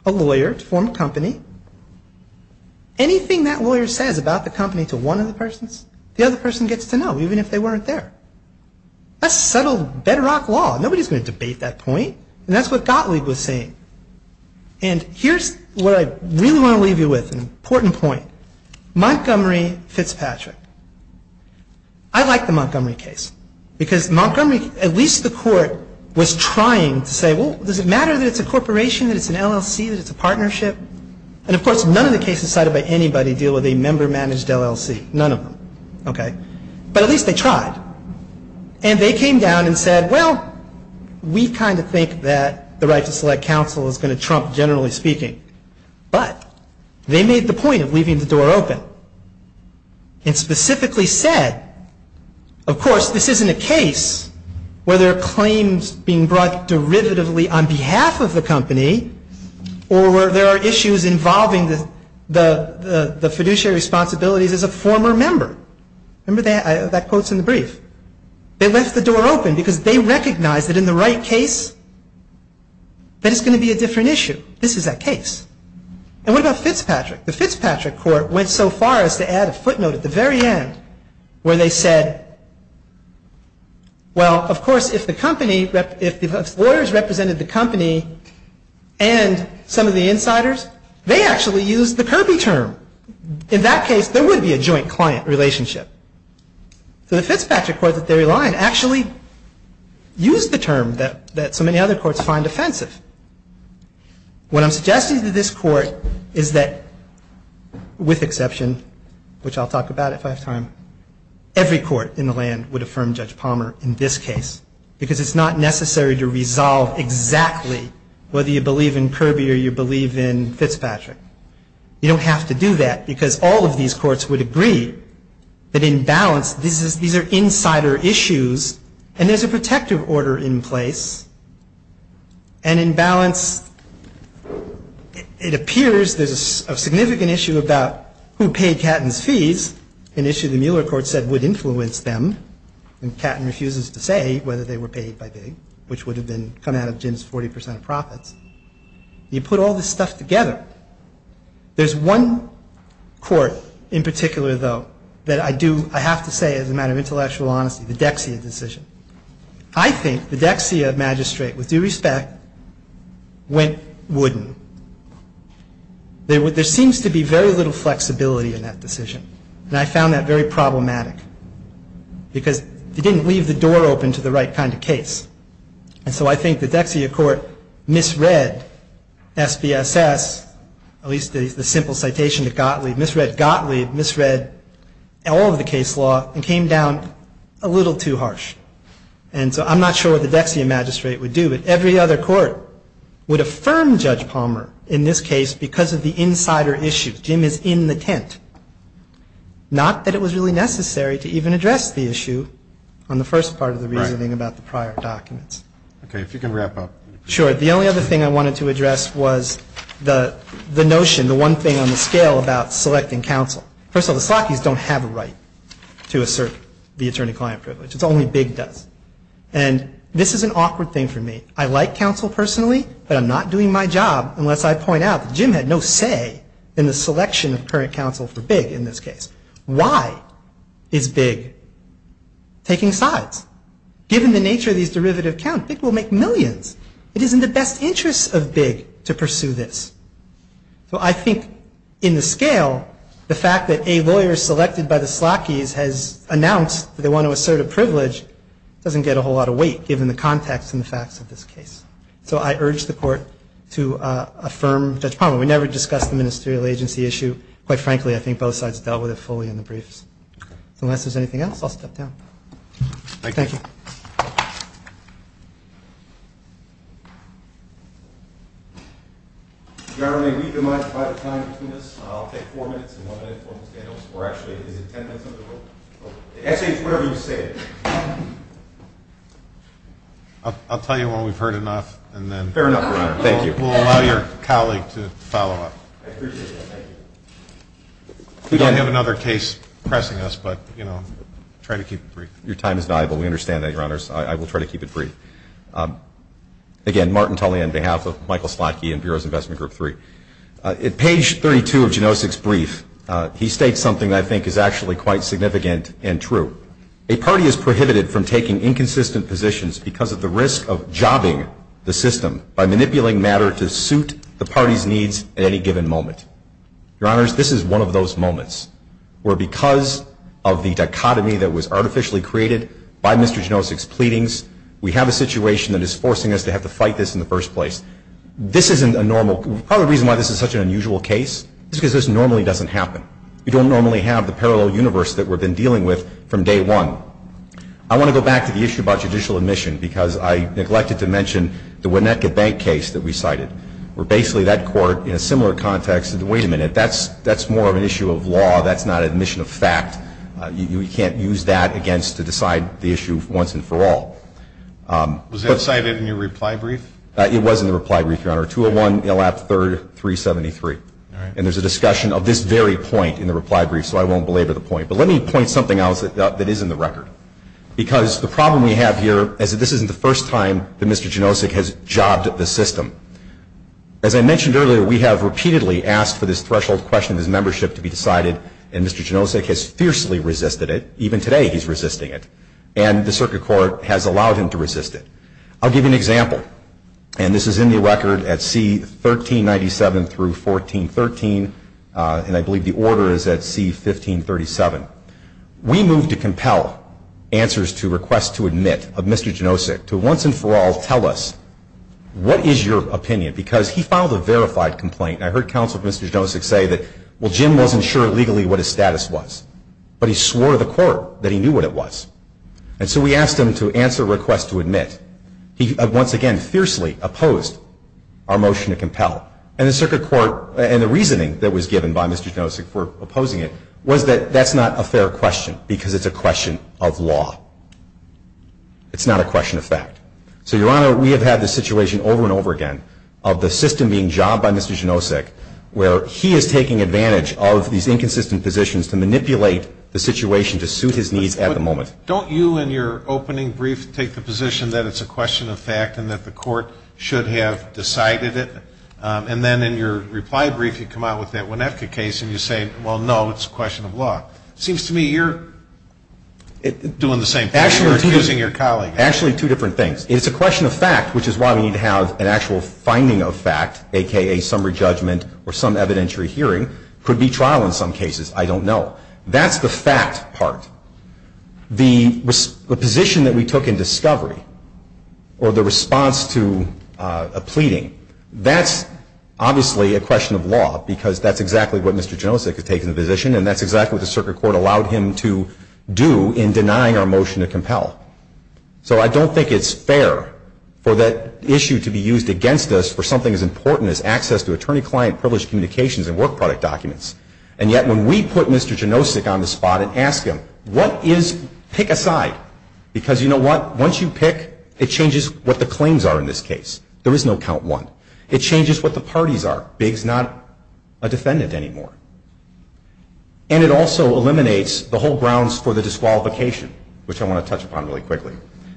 a lawyer to form a company. Anything that lawyer says about the company to one of the persons, the other person gets to know, even if they weren't there. That's settled bedrock law. Nobody's going to debate that point. And that's what Gottlieb was saying. And here's what I really want to leave you with, an important point. Montgomery Fitzpatrick. I like the Montgomery case. Because Montgomery, at least the court, was trying to say, does it matter that it's a corporation, that it's an LLC, that it's a partnership? And, of course, none of the cases cited by anybody deal with a member-managed LLC. None of them. But at least they tried. And they came down and said, well, we kind of think that the right to select counsel is going to trump, generally speaking. But they made the point of leaving the door open and specifically said, of course, this isn't a case where there are claims being brought derivatively on behalf of the company or where there are issues involving the fiduciary responsibilities as a former member. Remember that? That quote's in the brief. They left the door open because they recognized that in the right case, that it's going to be a different issue. This is that case. And what about Fitzpatrick? The Fitzpatrick court went so far as to add a footnote at the very end where they said, well, of course, if the company, if the lawyers represented the company and some of the insiders, they actually used the Kirby term. In that case, there would be a joint client relationship. So the Fitzpatrick court, at their line, actually used the term that so many other courts find offensive. What I'm suggesting to this court is that, with exception, which I'll talk about at last time, every court in the land would affirm Judge Palmer in this case because it's not necessary to resolve exactly whether you believe in Kirby or you believe in Fitzpatrick. You don't have to do that because all of these courts would agree that, in balance, these are insider issues and there's a protective order in place. And in balance, it appears there's a significant issue about who paid Catton's fees, an issue the Mueller court said would influence them, and Catton refuses to say whether they were paid by Bing, which would have come out of Jim's 40% profit. You put all this stuff together. There's one court in particular, though, that I have to say, as a matter of intellectual honesty, the Dexia decision. I think the Dexia magistrate, with due respect, went wooden. There seems to be very little flexibility in that decision, and I found that very problematic because he didn't leave the door open to the right kind of case. And so I think the Dexia court misread SBSS, at least the simple citation to Gottlieb, misread Gottlieb, misread all of the case law and came down a little too harsh. And so I'm not sure what the Dexia magistrate would do, but every other court would affirm Judge Palmer in this case because of the insider issues. Jim is in the tent. Not that it was really necessary to even address the issue on the first part of the reasoning about the prior documents. Okay, if you can wrap up. Sure. The only other thing I wanted to address was the notion, the one thing on the scale about selecting counsel. First of all, the Slockys don't have a right to assert the attorney-client privilege. It's only Big does. And this is an awkward thing for me. I like counsel personally, but I'm not doing my job unless I point out that Jim had no say in the selection of current counsel for Big in this case. Why is Big taking sides? Given the nature of these derivative accounts, Big will make millions. It is in the best interest of Big to pursue this. Well, I think in the scale, the fact that a lawyer selected by the Slockys has announced that they want to assert a privilege doesn't get a whole lot of weight, given the context and facts of this case. So I urge the court to affirm Judge Palmer. We never discussed the ministerial agency issue. Quite frankly, I think both sides dealt with it fully in the briefs. Unless there's anything else, I'll step down. Thank you. I'll tell you when we've heard enough. Fair enough. Thank you. We'll allow your colleague to follow up. I appreciate it. Thank you. We don't have another case pressing us, but, you know, try to keep it brief. Thank you. Thank you. Thank you. Thank you. Thank you. Thank you. Thank you. Thank you. Thank you. Thank you. Thank you. Thank you. Thank you. Thank you. Thank you. Thank you. Again, Martyn Tully, on behalf of Michael Slotkey and Bureau of Investments Group 3. At page 32 of Janousek's brief, he states something that I think is actually quite significant and true. A party is prohibited from taking inconsistent positions because of the risk of jobbing the system by manipulating matter to suit the party's needs at any given moment. Your Honors, this is one of those moments where because of the dichotomy that was artificially created by Mr. Janousek's pleadings, we have a situation that is forcing us to have to fight this in the first place. This isn't a normal – part of the reason why this is such an unusual case is because this normally doesn't happen. We don't normally have the parallel universe that we've been dealing with from day one. I want to go back to the issue about judicial admission because I neglected to mention the Winnetka Bank case that we cited, where basically that court in a similar context said, wait a minute, that's more of an issue of law, that's not an admission of fact. You can't use that against – to decide the issue once and for all. Was that cited in your reply brief? It was in the reply brief, Your Honor. 201-03-373. And there's a discussion of this very point in the reply brief, so I won't belabor the point. But let me point something out that is in the record. Because the problem we have here is that this isn't the first time that Mr. Janousek has jobbed at the system. As I mentioned earlier, we have repeatedly asked for this threshold question of his membership to be decided, and Mr. Janousek has fiercely resisted it. Even today he's resisting it. And the circuit court has allowed him to resist it. I'll give you an example. And this is in the record at C-1397 through 1413, and I believe the order is at C-1537. We moved to compel answers to requests to admit of Mr. Janousek to once and for all tell us, what is your opinion? Because he filed a verified complaint. I heard counsel for Mr. Janousek say that, well, Jim wasn't sure legally what his status was. But he swore to the court that he knew what it was. And so we asked him to answer requests to admit. He, once again, fiercely opposed our motion to compel. And the circuit court, and the reasoning that was given by Mr. Janousek for opposing it, was that that's not a fair question because it's a question of law. It's not a question of fact. So, Your Honor, we have had this situation over and over again of the system being jobbed by Mr. Janousek where he is taking advantage of these inconsistent positions to manipulate the situation to suit his needs at the moment. Don't you, in your opening brief, take the position that it's a question of fact and that the court should have decided it? And then in your reply brief, you come out with that Winefka case and you say, well, no, it's a question of law. It seems to me you're doing the same thing as your colleagues. Actually, two different things. It's a question of fact, which is why we need to have an actual finding of fact, a.k.a. summary judgment or some evidentiary hearing. It could be trial in some cases. I don't know. That's the fact part. The position that we took in discovery or the response to a pleading, that's obviously a question of law because that's exactly what Mr. Janousek had taken the position and that's exactly what the circuit court allowed him to do in denying our motion to compel. So I don't think it's fair for that issue to be used against us for something as important as access to attorney-client privileged communications and work product documents. And yet when we put Mr. Janousek on the spot and ask him, what is, take a side, because you know what, once you pick, it changes what the claims are in this case. There is no count one. It changes what the parties are. Big's not a defendant anymore. And it also eliminates the whole grounds for the disqualification, which I want to touch upon really quickly,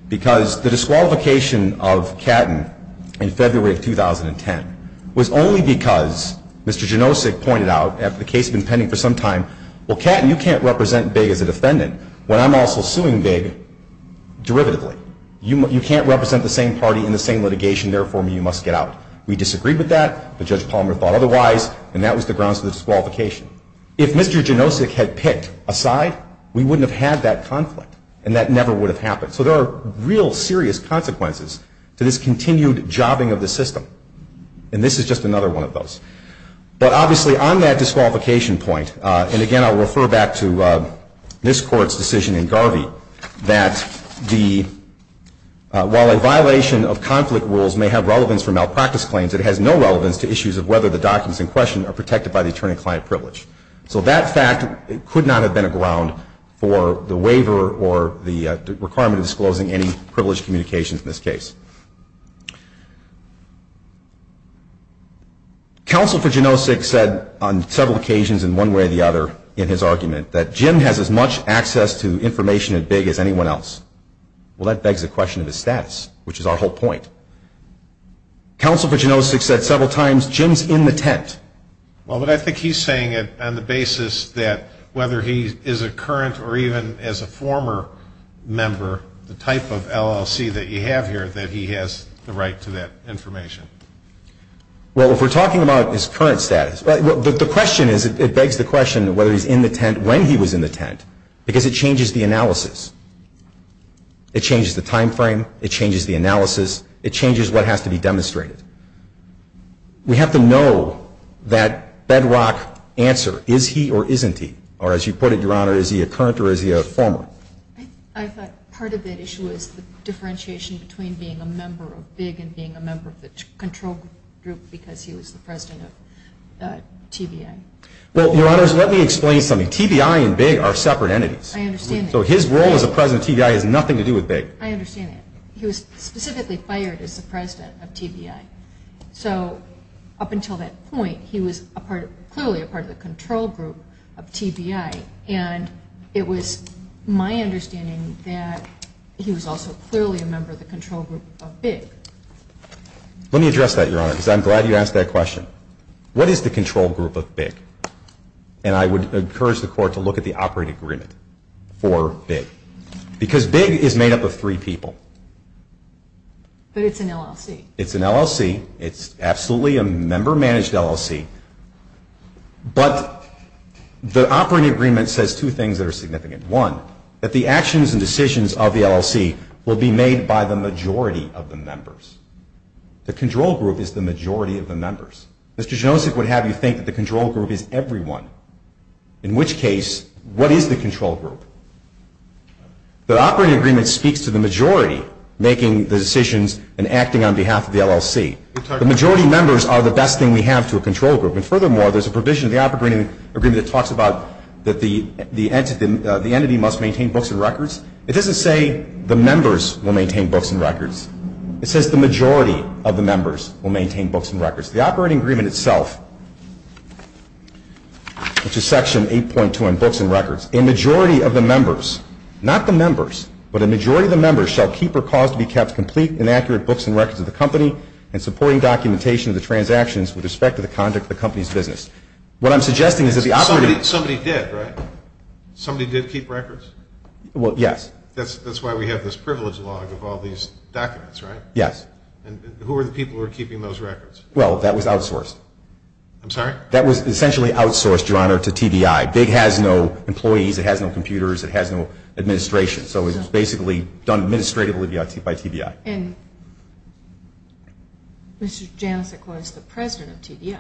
because the disqualification of Catton in February of 2010 was only because Mr. Janousek pointed out, after the case had been pending for some time, well, Catton, you can't represent Big as a defendant when I'm also suing Big derivatively. You can't represent the same party in the same litigation. Therefore, you must get out. We disagreed with that. But Judge Palmer thought otherwise, and that was the grounds for disqualification. If Mr. Janousek had picked a side, we wouldn't have had that conflict, and that never would have happened. So there are real serious consequences to this continued jobbing of the system, and this is just another one of those. But obviously on that disqualification point, and again I'll refer back to this Court's decision in Garvey, that while a violation of conflict rules may have relevance for malpractice claims, it has no relevance to issues of whether the documents in question are protected by the attorney-client privilege. So that fact could not have been a ground for the waiver or the requirement of disclosing any privileged communications in this case. Counsel for Janousek said on several occasions in one way or the other in his argument that Jim has as much access to information at Big as anyone else. Well, that begs the question of his status, which is our whole point. Counsel for Janousek said several times, Jim's in the tent. Well, but I think he's saying it on the basis that whether he is a current or even as a former member, the type of LLC that you have here, that he has the right to that information. Well, if we're talking about his current status, the question is it begs the question of whether he's in the tent when he was in the tent, because it changes the analysis. It changes the timeframe. It changes the analysis. It changes what has to be demonstrated. We have to know that bedrock answer, is he or isn't he, or as you put it, Your Honor, is he a current or is he a former? I thought part of the issue is the differentiation between being a member of Big and being a member of the control group because he was the president of KBI. Well, Your Honors, let me explain something. KBI and Big are separate entities. I understand that. So his role as a president of KBI has nothing to do with Big. I understand that. He was specifically fired as the president of KBI. So up until that point, he was clearly a part of the control group of TBI, and it was my understanding that he was also clearly a member of the control group of Big. Let me address that, Your Honor, because I'm glad you asked that question. What is the control group of Big? And I would encourage the Court to look at the operating agreement for Big because Big is made up of three people. But it's an LLC. It's an LLC. It's absolutely a member-managed LLC, but the operating agreement says two things that are significant. One, that the actions and decisions of the LLC will be made by the majority of the members. The control group is the majority of the members. Mr. Janosik would have you think that the control group is everyone, in which case, what is the control group? The operating agreement speaks to the majority making the decisions and acting on behalf of the LLC. The majority members are the best thing we have to a control group. And furthermore, there's a provision in the operating agreement that talks about that the entity must maintain books and records. It doesn't say the members will maintain books and records. It says the majority of the members will maintain books and records. The operating agreement itself, which is Section 8.2 on books and records, a majority of the members, not the members, but a majority of the members, shall keep or cause to be kept complete and accurate books and records of the company and supporting documentation of the transactions with respect to the conduct of the company's business. What I'm suggesting is that the operating agreement... Somebody did, right? Somebody did keep records? Well, yes. That's why we have this privilege log of all these documents, right? Yes. And who were the people who were keeping those records? Well, that was outsourced. I'm sorry? That was essentially outsourced, Your Honor, to TBI. VIG has no employees. It has no computers. It has no administration. So it was basically done administratively by TBI. And Mr. Jancic was the president of TBI.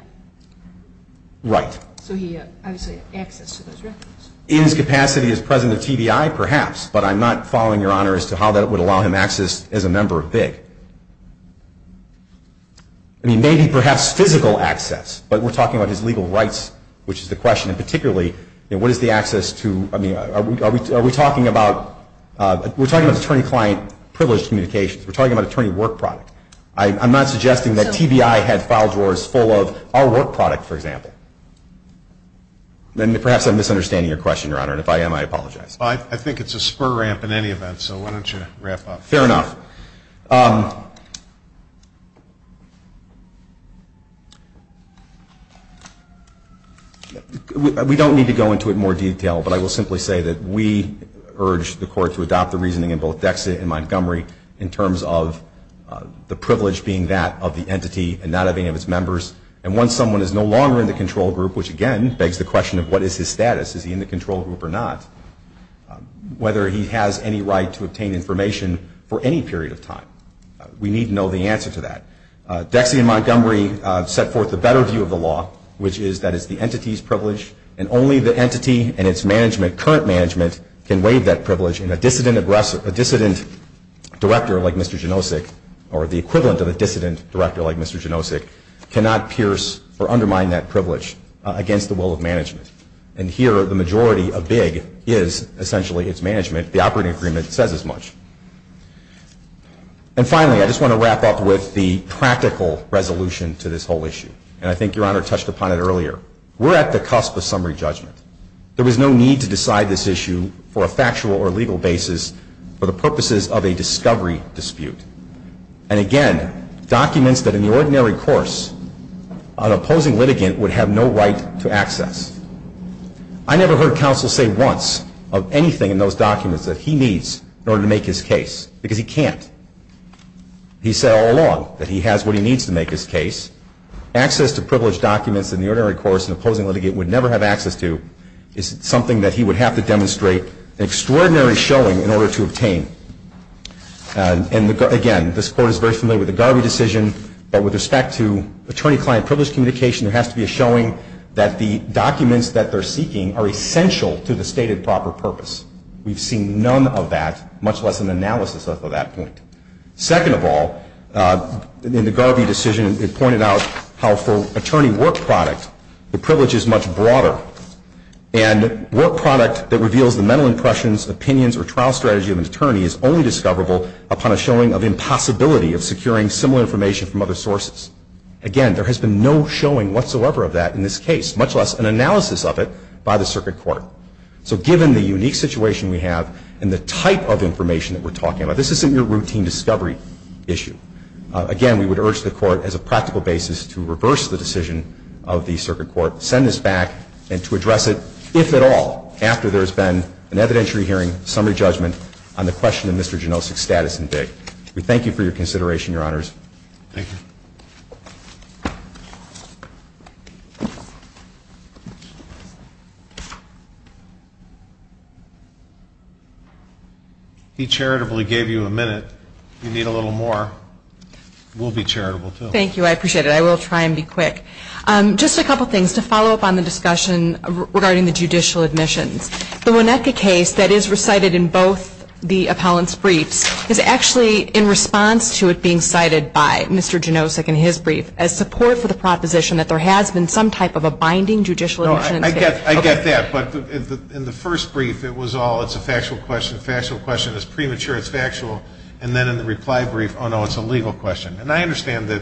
Right. So he had, I would say, access to those records. In his capacity as president of TBI, perhaps, but I'm not following, Your Honor, as to how that would allow him access as a member of VIG. I mean, maybe perhaps physical access. But we're talking about his legal rights, which is the question. And particularly, what is the access to... I mean, are we talking about... We're talking about attorney-client privilege communications. We're talking about attorney work product. I'm not suggesting that TBI had file drawers full of our work product, for example. And if I am, I apologize. I think it's a spur ramp in any event, so why don't you wrap up. Fair enough. We don't need to go into it in more detail, but I will simply say that we urge the court to adopt the reasoning in both Dexa and Montgomery in terms of the privilege being that of the entity and not of any of its members. And once someone is no longer in the control group, which, again, begs the question of what is his status. Is he in the control group or not? Whether he has any right to obtain information for any period of time. We need to know the answer to that. Dexa and Montgomery set forth the better view of the law, which is that it's the entity's privilege and only the entity and its management, current management, can waive that privilege and a dissident director like Mr. Janosik or the equivalent of a dissident director like Mr. Janosik cannot pierce or undermine that privilege against the will of management. And here the majority of big is essentially its management. The operating agreement says as much. And finally, I just want to wrap up with the practical resolution to this whole issue. And I think Your Honor touched upon it earlier. We're at the cusp of summary judgment. There is no need to decide this issue for a factual or legal basis for the purposes of a discovery dispute. And again, documents that in the ordinary course an opposing litigant would have no right to access. I never heard counsel say once of anything in those documents that he needs in order to make his case because he can't. He said all along that he has what he needs to make his case. Access to privileged documents in the ordinary course an opposing litigant would never have access to is something that he would have to demonstrate an extraordinary showing in order to obtain. And again, this Court is very familiar with the Garwood decision, but with respect to attorney-client privilege communication, there has to be a showing that the documents that they're seeking are essential to the stated proper purpose. We've seen none of that, much less an analysis of that point. Second of all, in the Garwood decision, it pointed out how for attorney work product, the privilege is much broader. And work product that reveals the mental impressions, opinions, or trial strategy of an attorney is only discoverable upon a showing of impossibility of securing similar information from other sources. Again, there has been no showing whatsoever of that in this case, much less an analysis of it by the Circuit Court. So given the unique situation we have and the type of information that we're talking about, this isn't your routine discovery issue. Again, we would urge the Court as a practical basis to reverse the decision of the Circuit Court, send this back, and to address it, if at all, after there's been an evidentiary hearing, summary judgment on the question of Mr. Janosik's status and date. We thank you for your consideration, Your Honors. Thank you. He charitably gave you a minute. If you need a little more, we'll be charitable, too. Thank you. I appreciate it. I will try and be quick. Just a couple things to follow up on the discussion regarding the judicial admission. The Winnetka case that is recited in both the appellant's briefs is actually in response to it being cited by Mr. Janosik in his brief as support for the proposition that there has been some type of a binding judicial admission. No, I get that. But in the first brief, it was all, it's a factual question, factual question is premature, it's factual. And then in the reply brief, oh, no, it's a legal question. And I understand that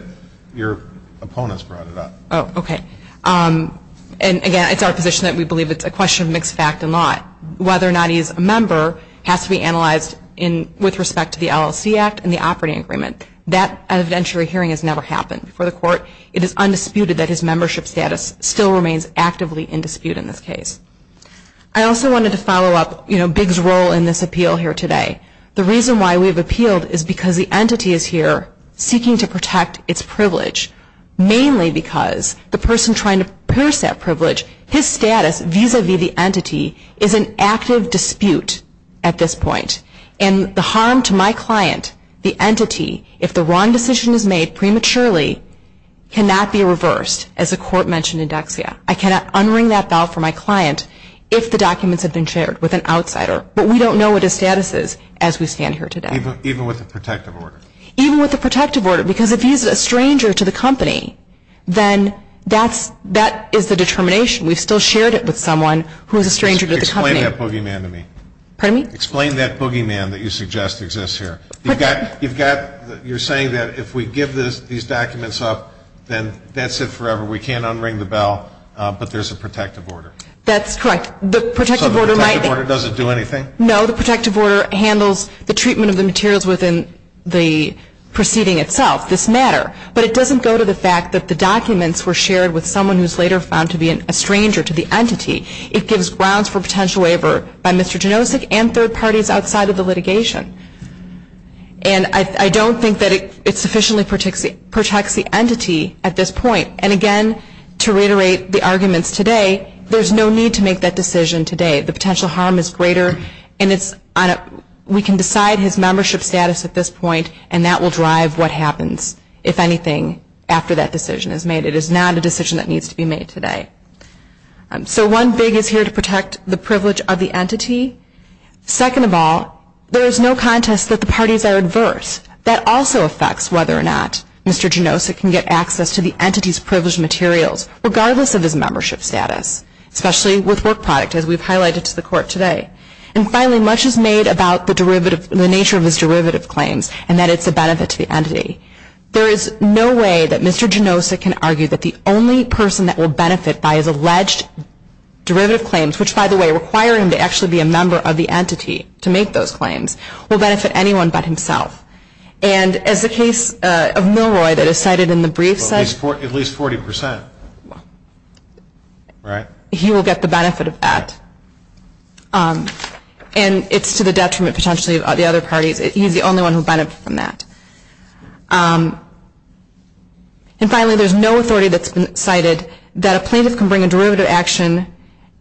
your opponents brought it up. Oh, okay. And, again, it's our position that we believe it's a question of mixed fact and lie, whether or not he's a member has to be analyzed with respect to the LLC Act and the operating agreement. That evidentiary hearing has never happened. For the court, it is undisputed that his membership status still remains actively in dispute in this case. I also wanted to follow up, you know, Bigg's role in this appeal here today. The reason why we've appealed is because the entity is here seeking to protect its privilege, mainly because the person trying to pierce that privilege, his status vis-a-vis the entity is an active dispute at this point. And the harm to my client, the entity, if the wrong decision is made prematurely, cannot be reversed, as the court mentioned in Dexia. I cannot unring that bell for my client if the documents have been shared with an outsider. But we don't know what his status is as we stand here today. Even with a protective order. Even with a protective order, because if he's a stranger to the company, then that is the determination. We've still shared it with someone who is a stranger to the company. Explain that boogeyman to me. Pardon me? Explain that boogeyman that you suggest exists here. You're saying that if we give these documents up, then that's it forever. We can't unring the bell, but there's a protective order. That's correct. So the protective order doesn't do anything? No, the protective order handles the treatment of the materials within the proceeding itself, this matter. But it doesn't go to the fact that the documents were shared with someone who's later found to be a stranger to the entity. It gives grounds for potential waiver by Mr. Janosik and third parties outside of the litigation. And I don't think that it sufficiently protects the entity at this point. And, again, to reiterate the arguments today, there's no need to make that decision today. The potential harm is greater, and we can decide his membership status at this point, and that will drive what happens, if anything, after that decision is made. It is not a decision that needs to be made today. So one big is here to protect the privilege of the entity. Second of all, there is no contest that the parties are adverse. That also affects whether or not Mr. Janosik can get access to the entity's privileged materials, regardless of his membership status, especially with work product, as we've highlighted to the court today. And, finally, much is made about the nature of his derivative claims, and that is the benefit to the entity. There is no way that Mr. Janosik can argue that the only person that will benefit by his alleged derivative claims, which, by the way, require him to actually be a member of the entity to make those claims, will benefit anyone but himself. And as the case of Milroy that is cited in the brief says... At least 40%, right? He will get the benefit of that. And it's to the detriment, potentially, of the other party that he's the only one who benefits from that. And, finally, there's no authority that's cited that a plaintiff can bring a derivative action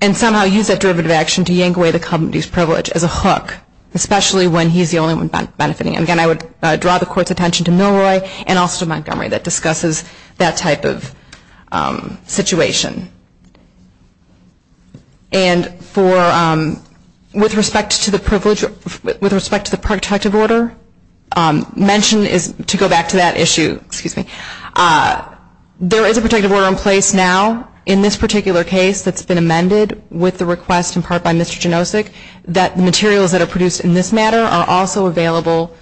and somehow use that derivative action to yank away the company's privilege as a hook, especially when he's the only one benefiting. And, again, I would draw the court's attention to Milroy and also to Montgomery that discusses that type of situation. And with respect to the protective order mentioned, to go back to that issue, there is a protective order in place now in this particular case that's been amended with the request in part by Mr. Janosik that materials that are produced in this matter are also available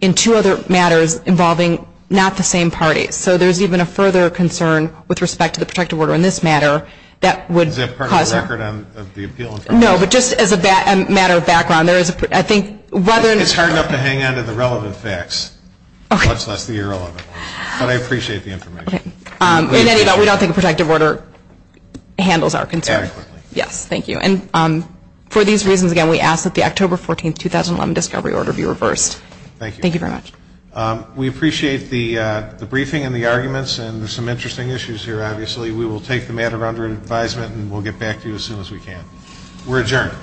in two other matters involving not the same parties. So there's even a further concern with respect to the protective order in this matter that would cause... Is that part of the record of the appeal? No, but just as a matter of background, there is, I think, whether... I think it's hard enough to hang on to the relevant facts. Okay. Much less the irrelevant ones. But I appreciate the information. Okay. We don't think a protective order handles our concerns. Exactly. Yes, thank you. And for these reasons, again, we ask that the October 14, 2011, discovery order be reversed. Thank you. Thank you very much. We appreciate the briefing and the arguments, and there's some interesting issues here, obviously. We will take the matter under advisement, and we'll get back to you as soon as we can. We're adjourned.